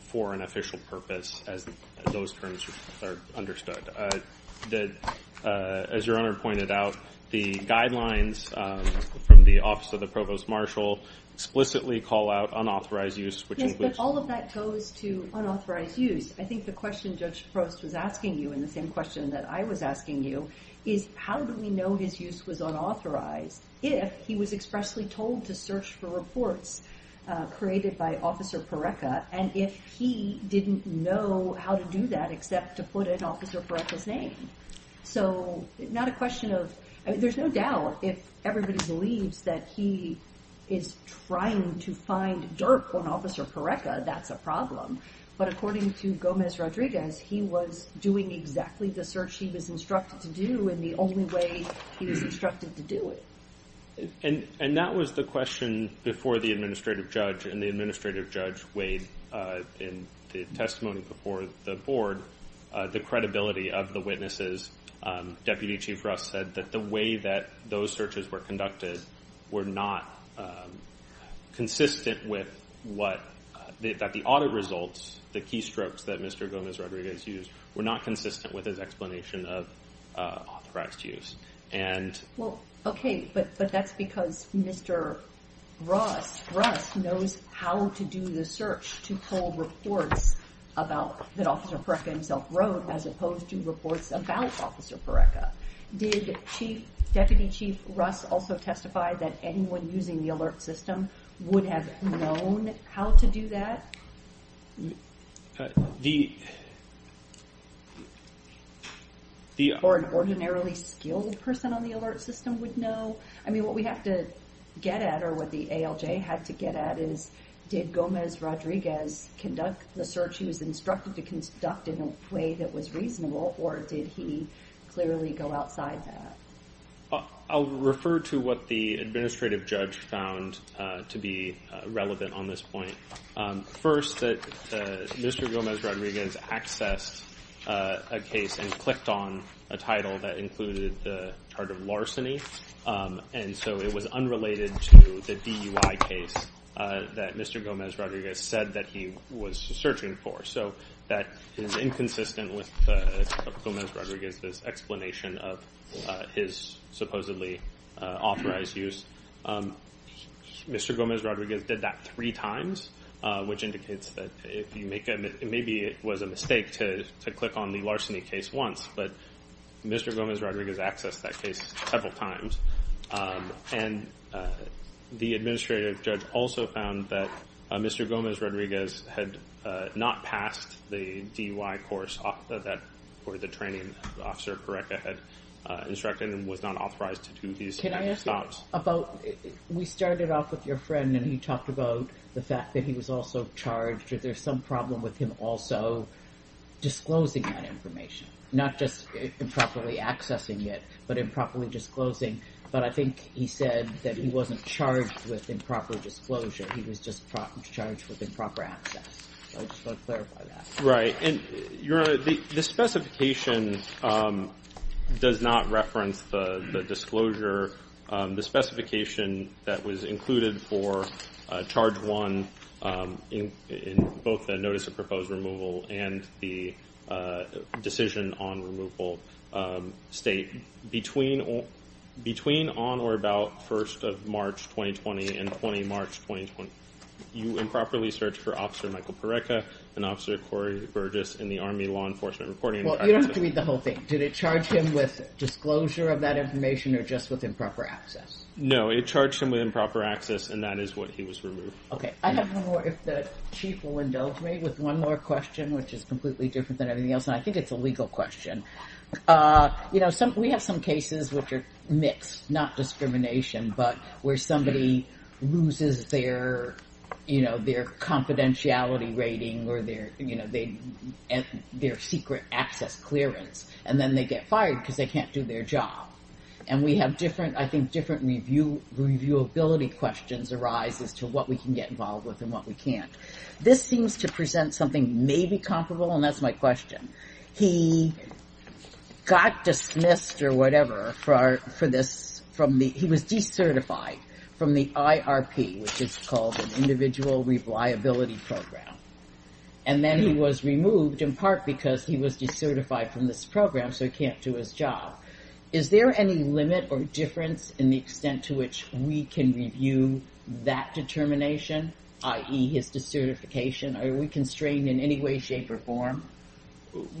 for an official purpose, as those terms are understood. As your Honor pointed out, the guidelines from the Office of the Provost Marshal explicitly call out unauthorized use, which includes... Yes, but all of that goes to the question that I was asking you, is how do we know that use was unauthorized if he was expressly told to search for reports created by Officer Pareca, and if he didn't know how to do that except to put in Officer Pareca's name? So it's not a question of... There's no doubt if everybody believes that he is trying to find dirt on Officer Pareca, that's a problem. But according to Gomez Rodriguez, he was doing exactly the search he was instructed to do in the only way he was instructed to do it. And that was the question before the Administrative Judge, and the Administrative Judge weighed in the testimony before the Board the credibility of the witnesses. Deputy Chief Ruff said that the way that those searches were conducted were not consistent with what... That the audit results, the keystrokes that Mr. Gomez Rodriguez used, were not consistent with his explanation of authorized use. Well, okay, but that's because Mr. Ruff knows how to do the search to pull reports that Officer Pareca himself wrote, as opposed to reports about Officer Pareca. Deputy Chief Ruff also testified that anyone using the alert system would have known how to do that. Or an ordinarily skilled person on the alert system would know. I mean, what we have to get at, or what the ALJ has to get at, is did Gomez Rodriguez conduct the search he was instructed to conduct in a way that was reasonable, or did he clearly go outside that? I'll refer to what the Administrative Judge found to be relevant on this point. First, that Mr. Gomez Rodriguez accessed a case and clicked on a title that included the term of larceny, and so it was unrelated to the DUI case that Mr. Gomez Rodriguez said that he was searching for. So that is inconsistent with Gomez Rodriguez's explanation of his supposedly authorized use. Mr. Gomez Rodriguez did that three times, which indicates that if you make a mistake, maybe it was a mistake to click on the larceny case once, but Mr. Gomez Rodriguez accessed that case several times. And the Administrative Judge also found that Mr. Gomez Rodriguez had not passed the DUI course for the training that Officer Pareca had instructed and was not authorized to do these kinds of spots. Can I ask you about, we started off with your friend and he talked about the fact that he was also charged, or there's some problem with him also disclosing that disclosing, but I think he said that he wasn't charged with improper disclosure, he was just charged with improper access. I just want to clarify that. Right, and the specification does not reference the disclosure. The specification that was included for Charge 1 in both the Notice of Proposed Removal and the Decision on Removal state. Between on or about 1st of March 2020 and 20 March 2020, you improperly searched for Officer Michael Pareca and Officer Corey Burgess in the Army Law Enforcement Reporting. Well, you don't have to read the whole thing. Did it charge him with disclosure of that information or just with improper access? No, it charged him with improper access and that is what he was removed. Okay, I don't know if the Chief will indulge me with one more question, which is completely different than anything else. I think it's a legal question. We have some cases which are mixed, not discrimination, but where somebody loses their confidentiality rating or their secret access clearance and then they get fired because they can't do their job. And we have different, I think different reviewability questions arise as to what we can get involved with and what we can't. This seems to present something maybe comparable and that's my question. He got dismissed or whatever for this, he was decertified from the IRP, which is called an IRP, and then he was removed in part because he was decertified from this program so he can't do his job. Is there any limit or difference in the extent to which we can review that determination, i.e. his decertification? Are we constrained in any way, shape, or form?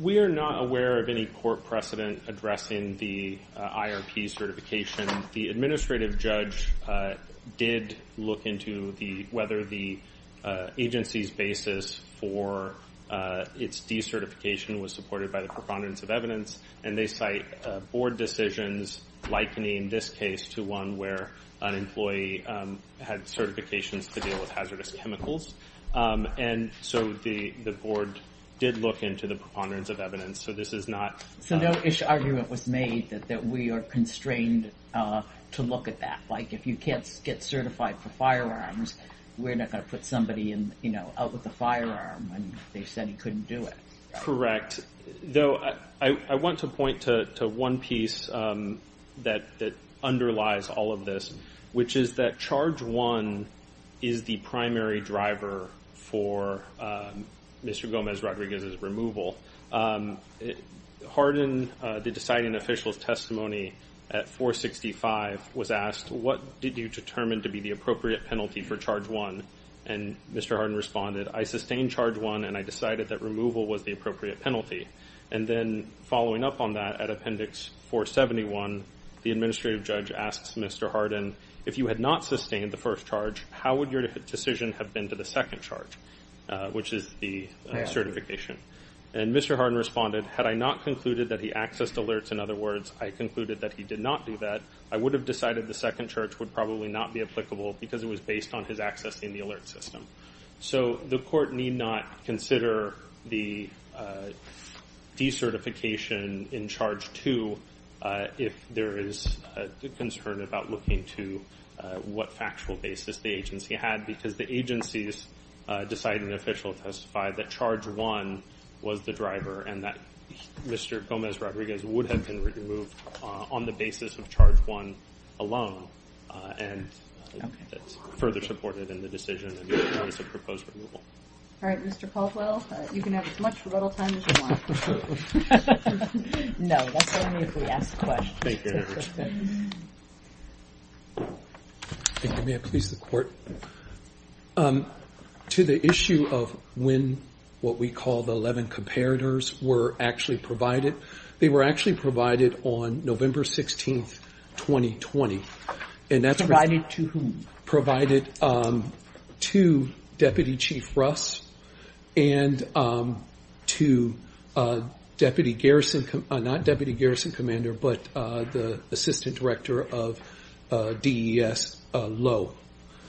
We are not aware of any court precedent addressing the IRP certification. The administrative judge did look into the whether the agency's basis for its decertification was supported by the preponderance of evidence, and they cite board decisions, like me in this case, to one where an employee had certifications to deal with hazardous chemicals. And so the board did look into the preponderance of evidence, so this is not... So no issue argument was made that we are constrained to look at that. Like, you can't get certified for firearms, we're not going to put somebody out with a firearm and they said he couldn't do it. Correct. Though I want to point to one piece that underlies all of this, which is that charge one is the primary driver for Mr. Gomez-Rodriguez's removal. Hardin, the deciding official's testimony at 465 was asked, what did you determine to be the appropriate penalty for charge one? And Mr. Hardin responded, I sustained charge one and I decided that removal was the appropriate penalty. And then following up on that at appendix 471, the administrative judge asked Mr. Hardin, if you had not sustained the first charge, how would your decision have been to the second charge, which is the certification? And Mr. Hardin responded, had I not concluded that he accessed alerts, in other words, I concluded that he did not do that, I would have decided the second charge would probably not be applicable because it was based on his access in the alert system. So the court need not consider the decertification in charge two if there is a concern about looking to what factual basis the agency had because the agency's deciding official testified that charge one was the driver and that Mr. Gomez-Rodriguez would have been removed on the basis of charge one alone and further supported in the decision to propose removal. All right, Mr. Paltrow, you can have as much riddle time as you want. No, that's only if we ask questions. Thank you. Can you give me a piece of the court? To the issue of when what we call the 11 comparators were actually provided, they were actually provided on November 16, 2020. And that's provided to Deputy Chief Russ and to Deputy Garrison, not Deputy Garrison Commander, but Assistant Director of DES Lowe.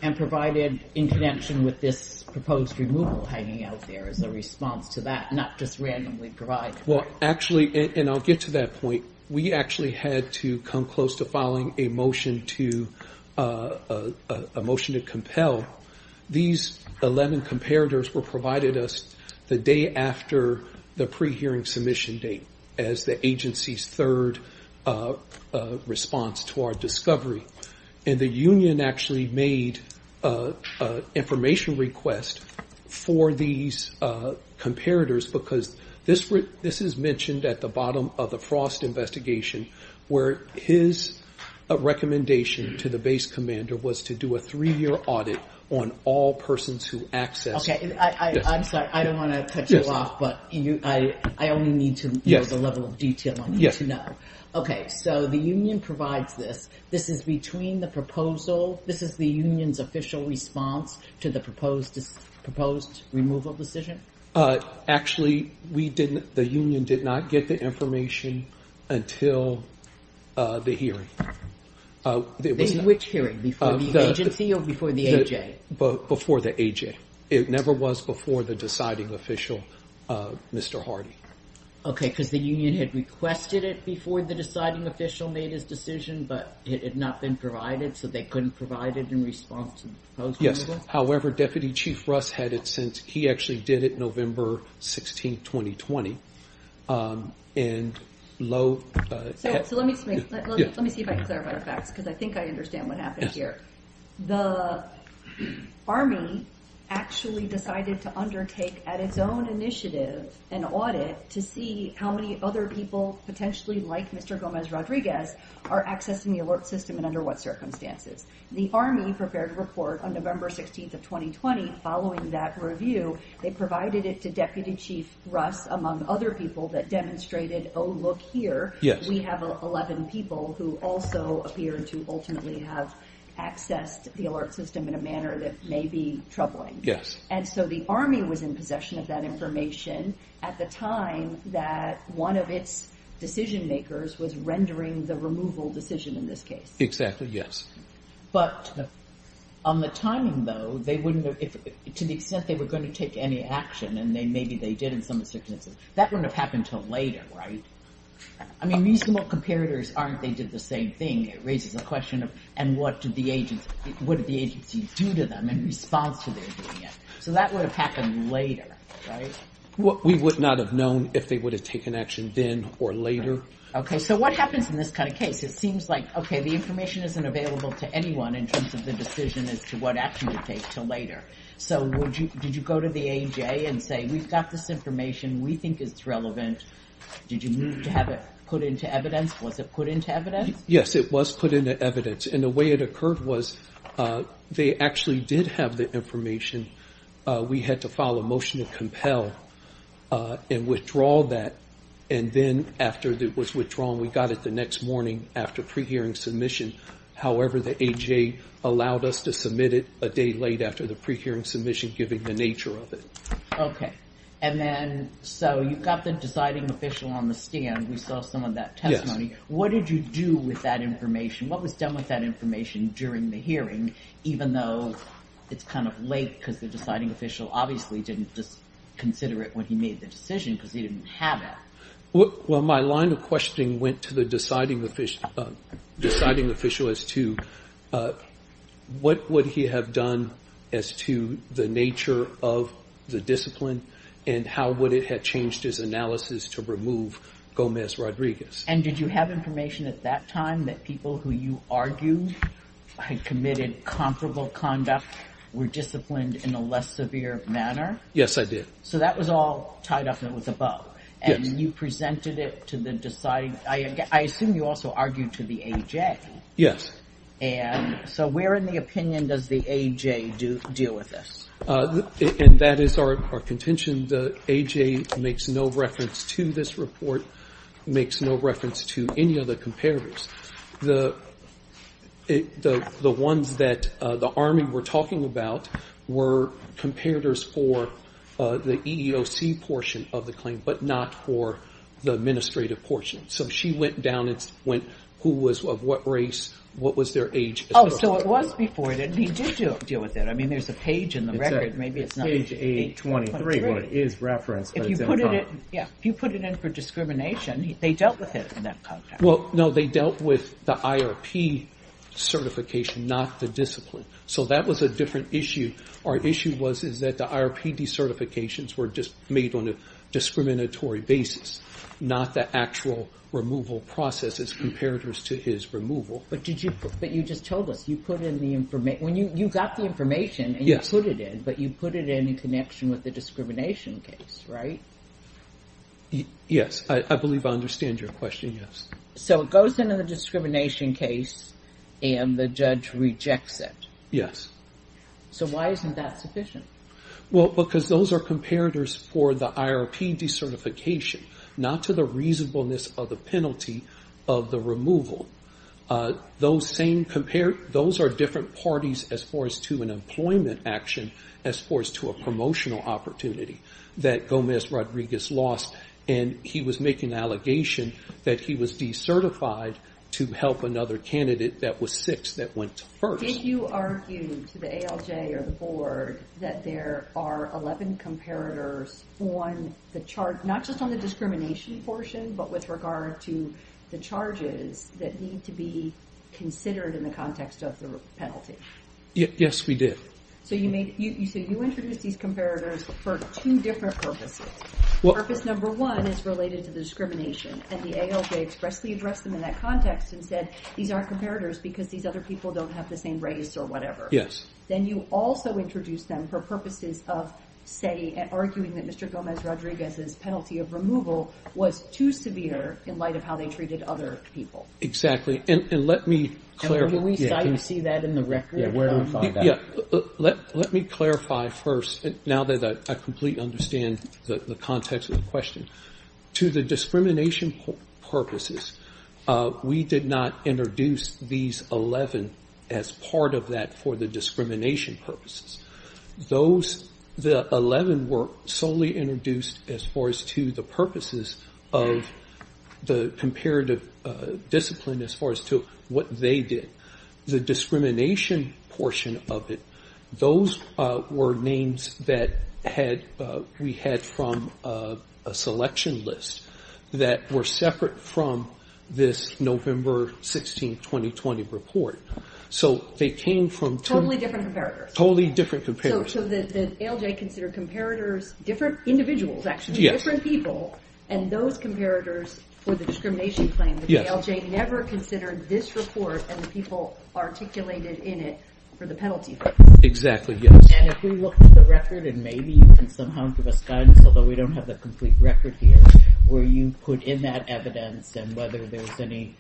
And provided exemption with this proposed removal hanging out there as a response to that, not just randomly provided. Well, actually, and I'll get to that point. We actually had to come close to filing a motion to compel. These 11 comparators were provided us the day after the pre-hearing submission date as the agency's third response to our discovery. And the union actually made a information request for these comparators because this is mentioned at the bottom of the Frost investigation, where his recommendation to the base commander was to do a three-year audit on all persons who access. I'm sorry. I don't want to cut you off, but I only need to know the level of detail I need to know. Okay. So, the union provides this. This is between the proposal, this is the union's official response to the proposed removal decision? Actually, the union did not get the information until the hearing. Which hearing? Before the agency or before the AJ? Before the AJ. It never was before the deciding official, Mr. Hardy. Okay. Because the union had requested it before the deciding official made his decision, but it had not been provided, so they couldn't provide it in response to the proposed removal? Yes. However, Deputy Chief Russ had it since he actually did it November 16, 2020. Let me see if I can clarify, because I think I understand what happened here. The Army actually decided to undertake at its own initiative an audit to see how many other people potentially, like Mr. Gomez Rodriguez, are accessing the alert system and under what circumstances. The Army prepared a report on November 16, 2020. Following that review, they provided it to Deputy Chief Russ, among other people that demonstrated, oh, look here, we have 11 people who also appear to ultimately have access to the alert system in a manner that may be troubling. Yes. And so the Army was in possession of that information at the time that one of its decision makers was rendering the removal decision in this case. Exactly, yes. But on the timing, though, they wouldn't have, to the extent they were going to take any action, and maybe they did in some comparators aren't they did the same thing. It raises the question of, and what did the agency do to them in response to their doing it? So that would have happened later, right? We would not have known if they would have taken action then or later. Okay. So what happens in this kind of case? It seems like, okay, the information isn't available to anyone in terms of the decision as to what action to take until later. So did you go to the AEJ and say, we've got this information, we think it's relevant. Did you need to have it put into evidence? Was it put into evidence? Yes, it was put into evidence. And the way it occurred was they actually did have the information. We had to file a motion to compel and withdraw that. And then after it was withdrawn, we got it the next morning after pre-hearing submission. However, the AEJ allowed us to submit it a day late after the pre-hearing submission, given the nature of it. Okay. And then, so you've got the deciding official on the stand who saw some of that testimony. What did you do with that information? What was done with that information during the hearing, even though it's kind of late because the deciding official obviously didn't consider it when he made the decision because he didn't have it? Well, my line of questioning went to the deciding official as to what would he have done as to the nature of the discipline and how would it have changed his analysis to remove Gomez-Rodriguez? And did you have information at that time that people who you argued had committed comparable conduct were disciplined in a less severe manner? Yes, I did. So that was all tied up and it was above. Yes. And you presented it to the deciding, I assume you also argued to the AEJ. Yes. And so where in the opinion does the AEJ deal with this? And that is our contention. The AEJ makes no reference to this report, makes no reference to any other comparatives. The ones that the EEOC portion of the claim, but not for the administrative portion. So she went down and went, who was of what race, what was their age? Oh, so it was before that he did deal with it. I mean, there's a page in the record. Page 823 is referenced. If you put it in for discrimination, they dealt with it in that context. Well, no, they dealt with the IRP certification, not the discipline. So that was a different issue. Our issue was, is that the IRP decertifications were just made on a discriminatory basis, not the actual removal process as comparatives to his removal. But did you, but you just told us you put in the information when you got the information and you put it in, but you put it in connection with the discrimination case, right? Yes. I believe I understand your question. Yes. So it goes into the discrimination case and the judge rejects it. Yes. So why isn't that sufficient? Well, because those are comparatives for the IRP decertification, not to the reasonableness of the penalty of the removal. Those same comparatives, those are different parties as far as to an employment action, as far as to a promotional opportunity that Gomez Rodriguez lost. And he was making an allegation that he was decertified to help another candidate that was six that went first. Did you argue to the ALJ or the board that there are 11 comparators on the charge, not just on the discrimination portion, but with regard to the charges that need to be considered in the context of the penalty? Yes, we did. So you said you introduced these comparators for two different purposes. Purpose number one is related to discrimination. And the ALJ expressly addressed them in that context and said, these aren't comparators because these other people don't have the same race or whatever. Yes. Then you also introduced them for purposes of saying and arguing that Mr. Gomez Rodriguez's penalty of removal was too severe in light of how they treated other people. Exactly. And let me clarify. Do we see that in the record? Yeah, let me clarify first. Now that I understand the context of the question. To the discrimination purposes, we did not introduce these 11 as part of that for the discrimination purposes. The 11 were solely introduced as far as to the purposes of the comparative discipline as far as to what they did. The discrimination portion of it, those were names that we had from a selection list that were separate from this November 16th, 2020 report. So they came from- Totally different comparators. Totally different comparators. So the ALJ considered comparators, different individuals actually, different people. And those comparators for the discrimination claim, the ALJ never considered this report and the people articulated in it for the penalty. Exactly, yes. And if we look at the record, and maybe you can somehow give a sense, although we don't have the complete record here, where you put in that evidence and whether there's any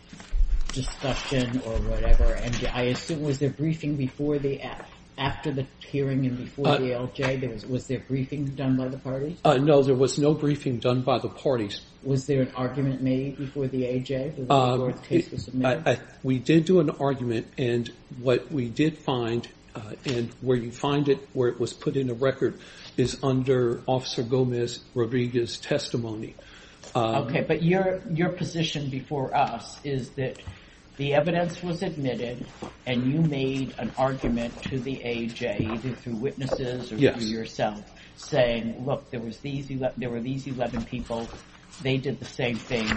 discussion or whatever. And I assume, was there briefing before the hearing and before the ALJ? Was there briefing done by the party? No, there was no briefing done by the parties. Was there an argument made before the ALJ? We did do an argument and what we did find, and where you find it, where it was put in the record, is under Officer Gomez Rodriguez's testimony. Okay, but your position before us is that the evidence was admitted and you made an argument to the ALJ, either through witnesses or through yourself, saying, look, there were these 11 people, they did the same thing,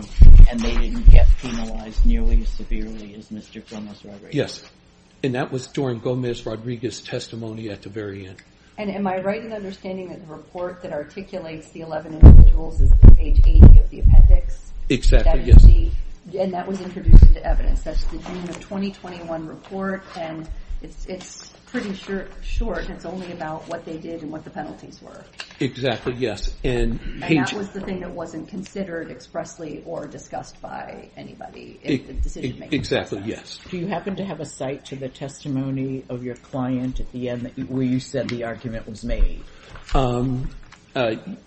and they didn't get penalized nearly as severely as Mr. Gomez. Yes, and that was Doran Gomez Rodriguez's testimony at the very end. And am I right in understanding that the report that articulates the 11 individuals is page 80 of the appendix? Exactly, yes. And that was introduced as evidence, that's the June of 2021 report, and it's pretty short, it's only about what they did and what the penalties were. Exactly, yes. And that was the thing that wasn't considered expressly or discussed by anybody? Exactly, yes. Do you happen to have a cite to the testimony of your client at the end where you said the argument was made?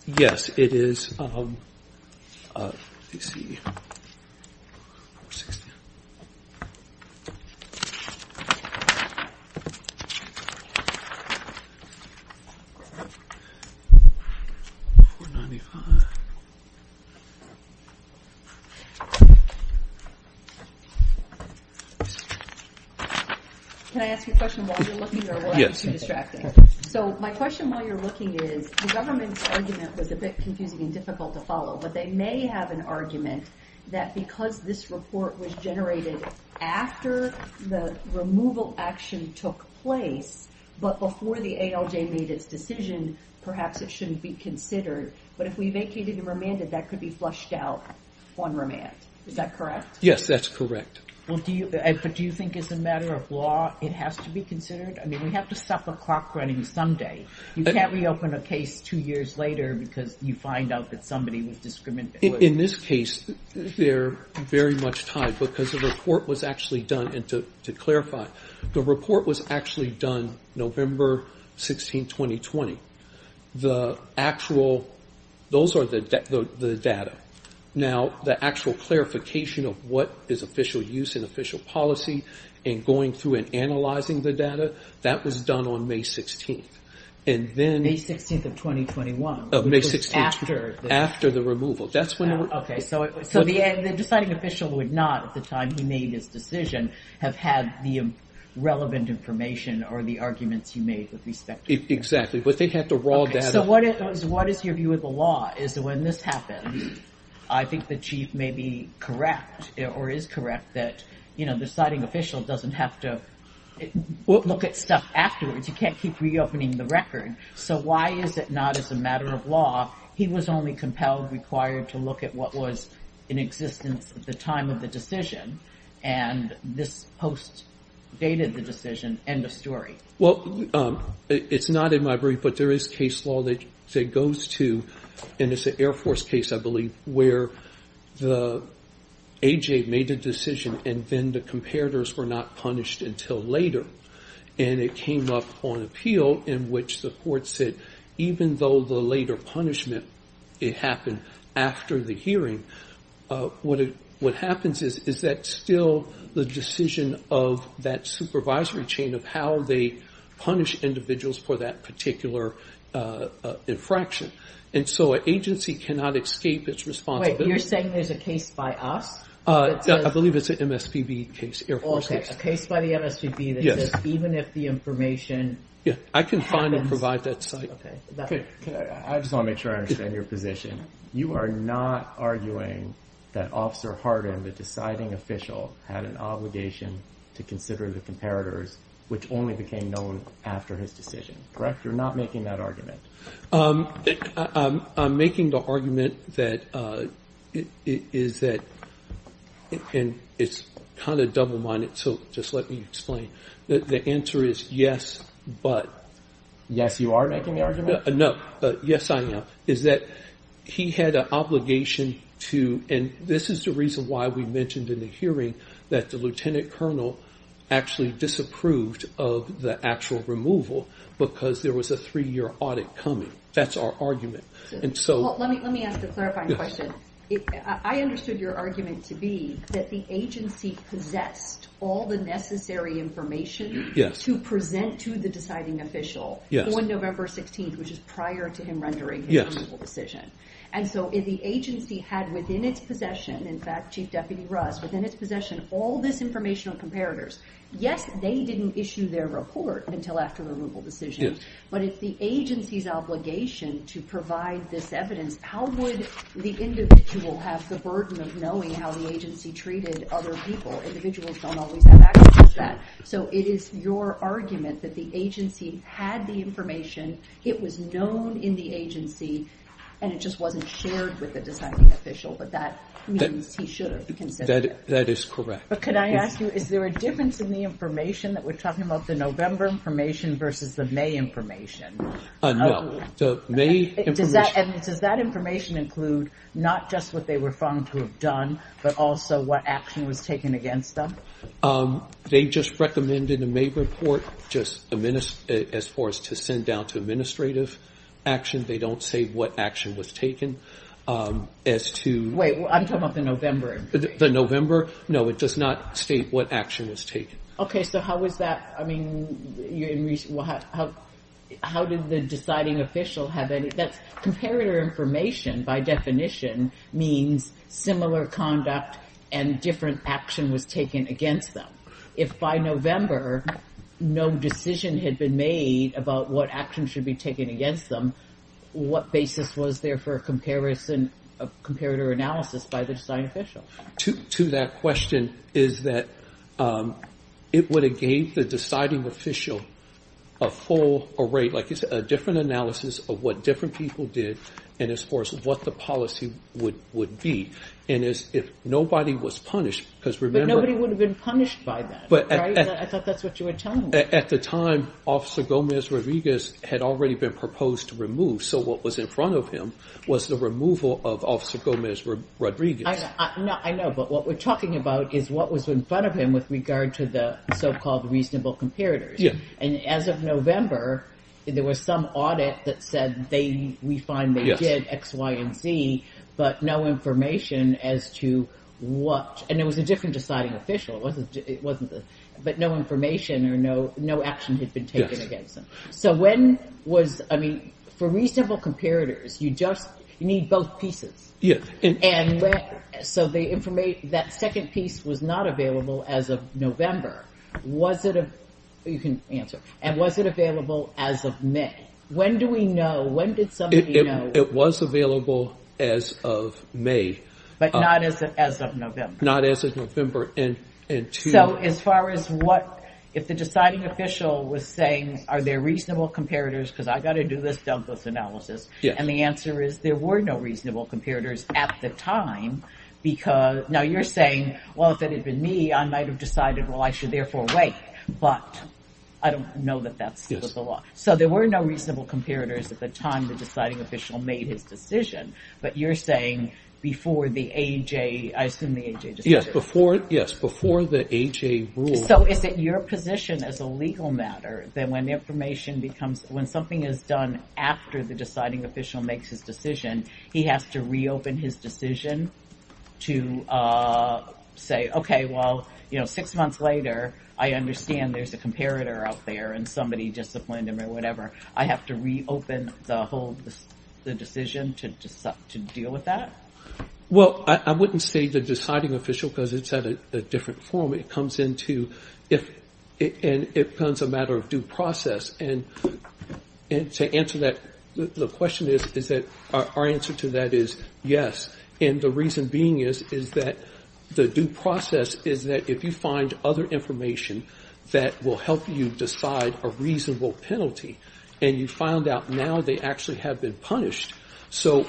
Yes, it is. 495. Can I ask you a question while you're looking? So my question while you're looking is, the government's argument was a bit confusing and difficult to follow, but they may have an argument that because this report was generated after the removal action took place, but before the ALJ made its decision, perhaps it shouldn't be considered. But if we vacated the remanded, that could be flushed out on remand. Is that correct? Yes, that's correct. Well, do you think as a matter of law, it has to be considered? I mean, we have to stop the clock running someday. You can't reopen a case two years later because you find out that somebody was discriminating. In this case, they're very much tied because the report was actually done, and to clarify, the report was actually done November 16, 2020. The actual, those are the data. Now, the actual clarification of what is official use and official policy and going through and analyzing the data, that was done on May 16. And then... May 16 of 2021. Of May 16, after the removal. That's when... Okay, so the deciding official would not, at the time he made his decision, have had the relevant information or the arguments you made with respect to... Exactly, but they had the raw data. So what is your view of the law is that when this happens, I think the chief may be correct or is correct that the deciding official doesn't have to look at stuff afterwards. You can't keep reopening the record. So why is it not as a matter of law, he was only compelled, required to look at what was in existence at the time of the decision, and this postdated the decision, end of story? Well, it's not in my brief, but there is case law that goes to, and it's an Air Force case, I believe, where the AJA made a decision and then the comparators were not punished until later. And it came up on appeal in which the court said, even though the later punishment, it happened after the hearing, what happens is that still the decision of that supervisory chain of how they punish individuals for that particular infraction. And so an agency cannot escape its responsibility. Wait, you're saying there's a case by us? I believe it's an MSPB case, Air Force case. A case by the MSPB that says even if the information... Yeah, I can find and provide that site. Okay. I just want to make sure I understand your position. You are not arguing that Officer Hardin, the deciding official, had an obligation to consider the comparators, which only became known after his decision, correct? You're not making that argument. I'm making the argument that it is that... And it's kind of double-minded, so just let me explain. The answer is yes, but... Yes, you are making the argument? No, but yes, I am. Is that he had an obligation to... This is the reason why we mentioned in the hearing that the lieutenant colonel actually disapproved of the actual removal because there was a three-year audit coming. That's our argument. And so... Let me ask a clarifying question. I understood your argument to be that the agency possessed all the necessary information to present to the deciding official on November 16th, which is prior to him rendering his decision. And so if the agency had within its possession, in fact, Chief Deputy Russ, within its possession, all this information of comparators, yes, they didn't issue their report until after the removal decision, but it's the agency's obligation to provide this evidence. How would the individual have the burden of knowing how the agency treated other people? Individuals don't always have access to that. So it is your argument that the agency had the information, it was known in the agency, and it just wasn't shared with the deciding official. But that means he should have been convicted. That is correct. But could I ask you, is there a difference in the information that we're talking about, the November information versus the May information? No. So May information... And does that information include not just what they were found to have done, but also what action was taken against them? They just recommended a May report just as far as to send down to administrative action. They don't say what action was taken as to... Wait, I'm talking about the November. The November? No, it does not state what action was taken. Okay. So how was that, I mean, how did the deciding official have any... That comparator information, by definition, means similar conduct and different action was taken against them. If by November, no decision had been made about what action should be taken against them, what basis was there for a comparator analysis by the deciding official? To that question is that it would have gave the deciding official a full array, like you said, a different analysis of what different people did and as far as what the policy would be. And if nobody was punished, because remember... But nobody would have been punished by that, right? I thought that's what you were telling me. At the time, Officer Gomez Rodriguez had already been proposed to remove. So what was in front of him was the removal of Officer Gomez Rodriguez. I know, but what we're talking about is what was in front of him with regard to the so-called reasonable comparators. And as of November, there was some audit that said they... We find they did X, Y, and Z, but no information as to what... And it was a different deciding official, it wasn't... But no information or no action had been taken against them. So when was... I mean, for reasonable comparators, you just need both pieces. So they informed that second piece was not available as of November. Was it... You can answer. And was it available as of May? When do we know? When did somebody know? It was available as of May. But not as of November. Not as of November. So as far as what... Deciding official was saying, are there reasonable comparators? Because I've got to do this Douglas analysis. And the answer is there were no reasonable comparators at the time, because... Now you're saying, well, if it had been me, I might have decided, well, I should therefore wait. But I don't know that that's the law. So there were no reasonable comparators at the time the deciding official made his decision. But you're saying before the AJ... I assume the AJ... Yes, before the AJ ruled... So if your position is a legal matter, then when information becomes... When something is done after the deciding official makes his decision, he has to reopen his decision to say, okay, well, six months later, I understand there's a comparator out there and somebody disciplined him or whatever. I have to reopen the whole decision to deal with that? Well, I wouldn't say the deciding official, because it's at a different form. It comes into... And it becomes a matter of due process. And to answer that, the question is, is that our answer to that is yes. And the reason being is that the due process is that if you find other information that will help you decide a reasonable penalty, and you find out now they actually have been punished. So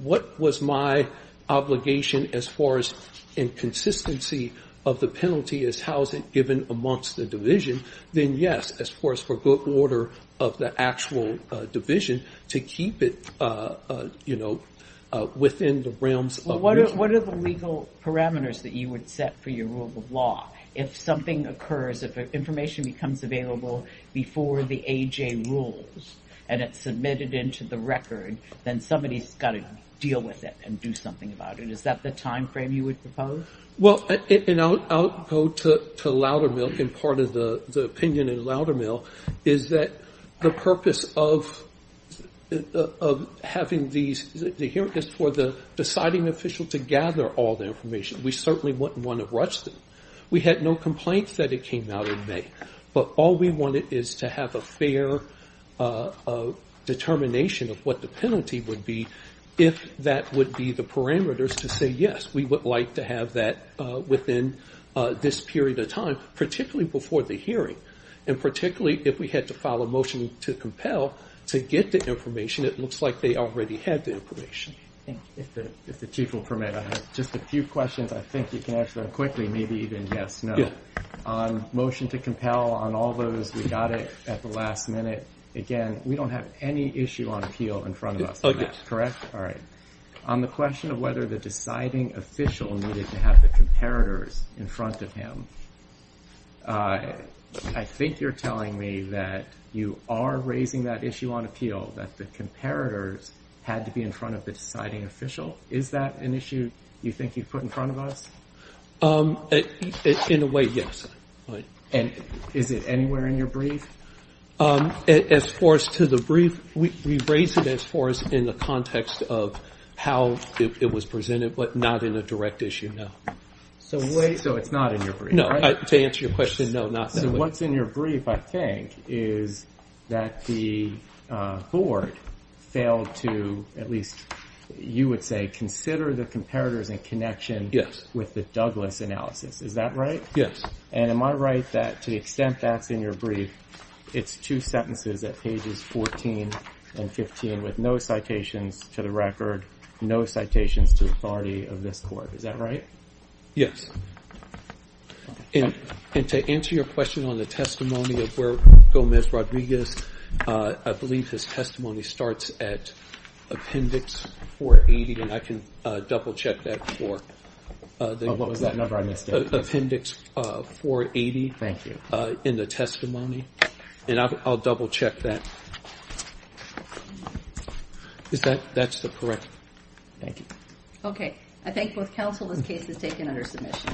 what was my obligation as far as inconsistency of the penalty as housing given amongst the division? Then yes, as far as for good order of the actual division to keep it within the realms of... What are the legal parameters that you would set for your rule of law? If something occurs, if information becomes available before the AJ rules and it's submitted into the record, then somebody's got to deal with it and do something about it. Is that the time frame you would propose? Well, I'll go to Loudermilk and part of the opinion in Loudermilk is that the purpose of having these hearings is for the deciding official to gather all the information. We certainly wouldn't want to rush this. We had no complaints that it came out in May. But all we wanted is to have a fair determination of what the penalty would be if that would be the parameters to say, yes, we would like to have that within this period of time, particularly before the hearing. And particularly if we had to file a motion to compel to get the information, it looks like they already had the information. Thank you. If the chief will permit, I have just a few questions I think you can answer quickly, maybe even yes, no. On motion to compel on all those, we got it at the last minute. Again, we don't have any issue on appeal in front of us, correct? All right. On the question of whether the deciding official needed to have the comparators in front of him, I think you're telling me that you are raising that issue on appeal that the comparators had to be in front of the deciding official. Is that an issue you think he put in front of us? In a way, yes. And is it anywhere in your brief? As far as to the brief, we raised it as far as in the context of how it was presented, but not in a direct issue, no. So it's not in your brief, right? No, to answer your question, no, not in the brief. What's in your brief, I think, is that the board failed to, at least you would say, consider the comparators in connection with the Douglas analysis. Is that right? Yes. And am I right that to the extent that's in your brief, it's two sentences at pages 14 and 15 with no citations to the record, no citations to authority of this court. Is that right? Yes. And to answer your question on the testimony of Gomez Rodriguez, I believe his testimony starts at appendix 480. And I can double check that for... Appendix 480. Thank you. In the testimony. And I'll double check that. That's correct. Thank you. Okay. I thank both counsel. This case is taken under submission.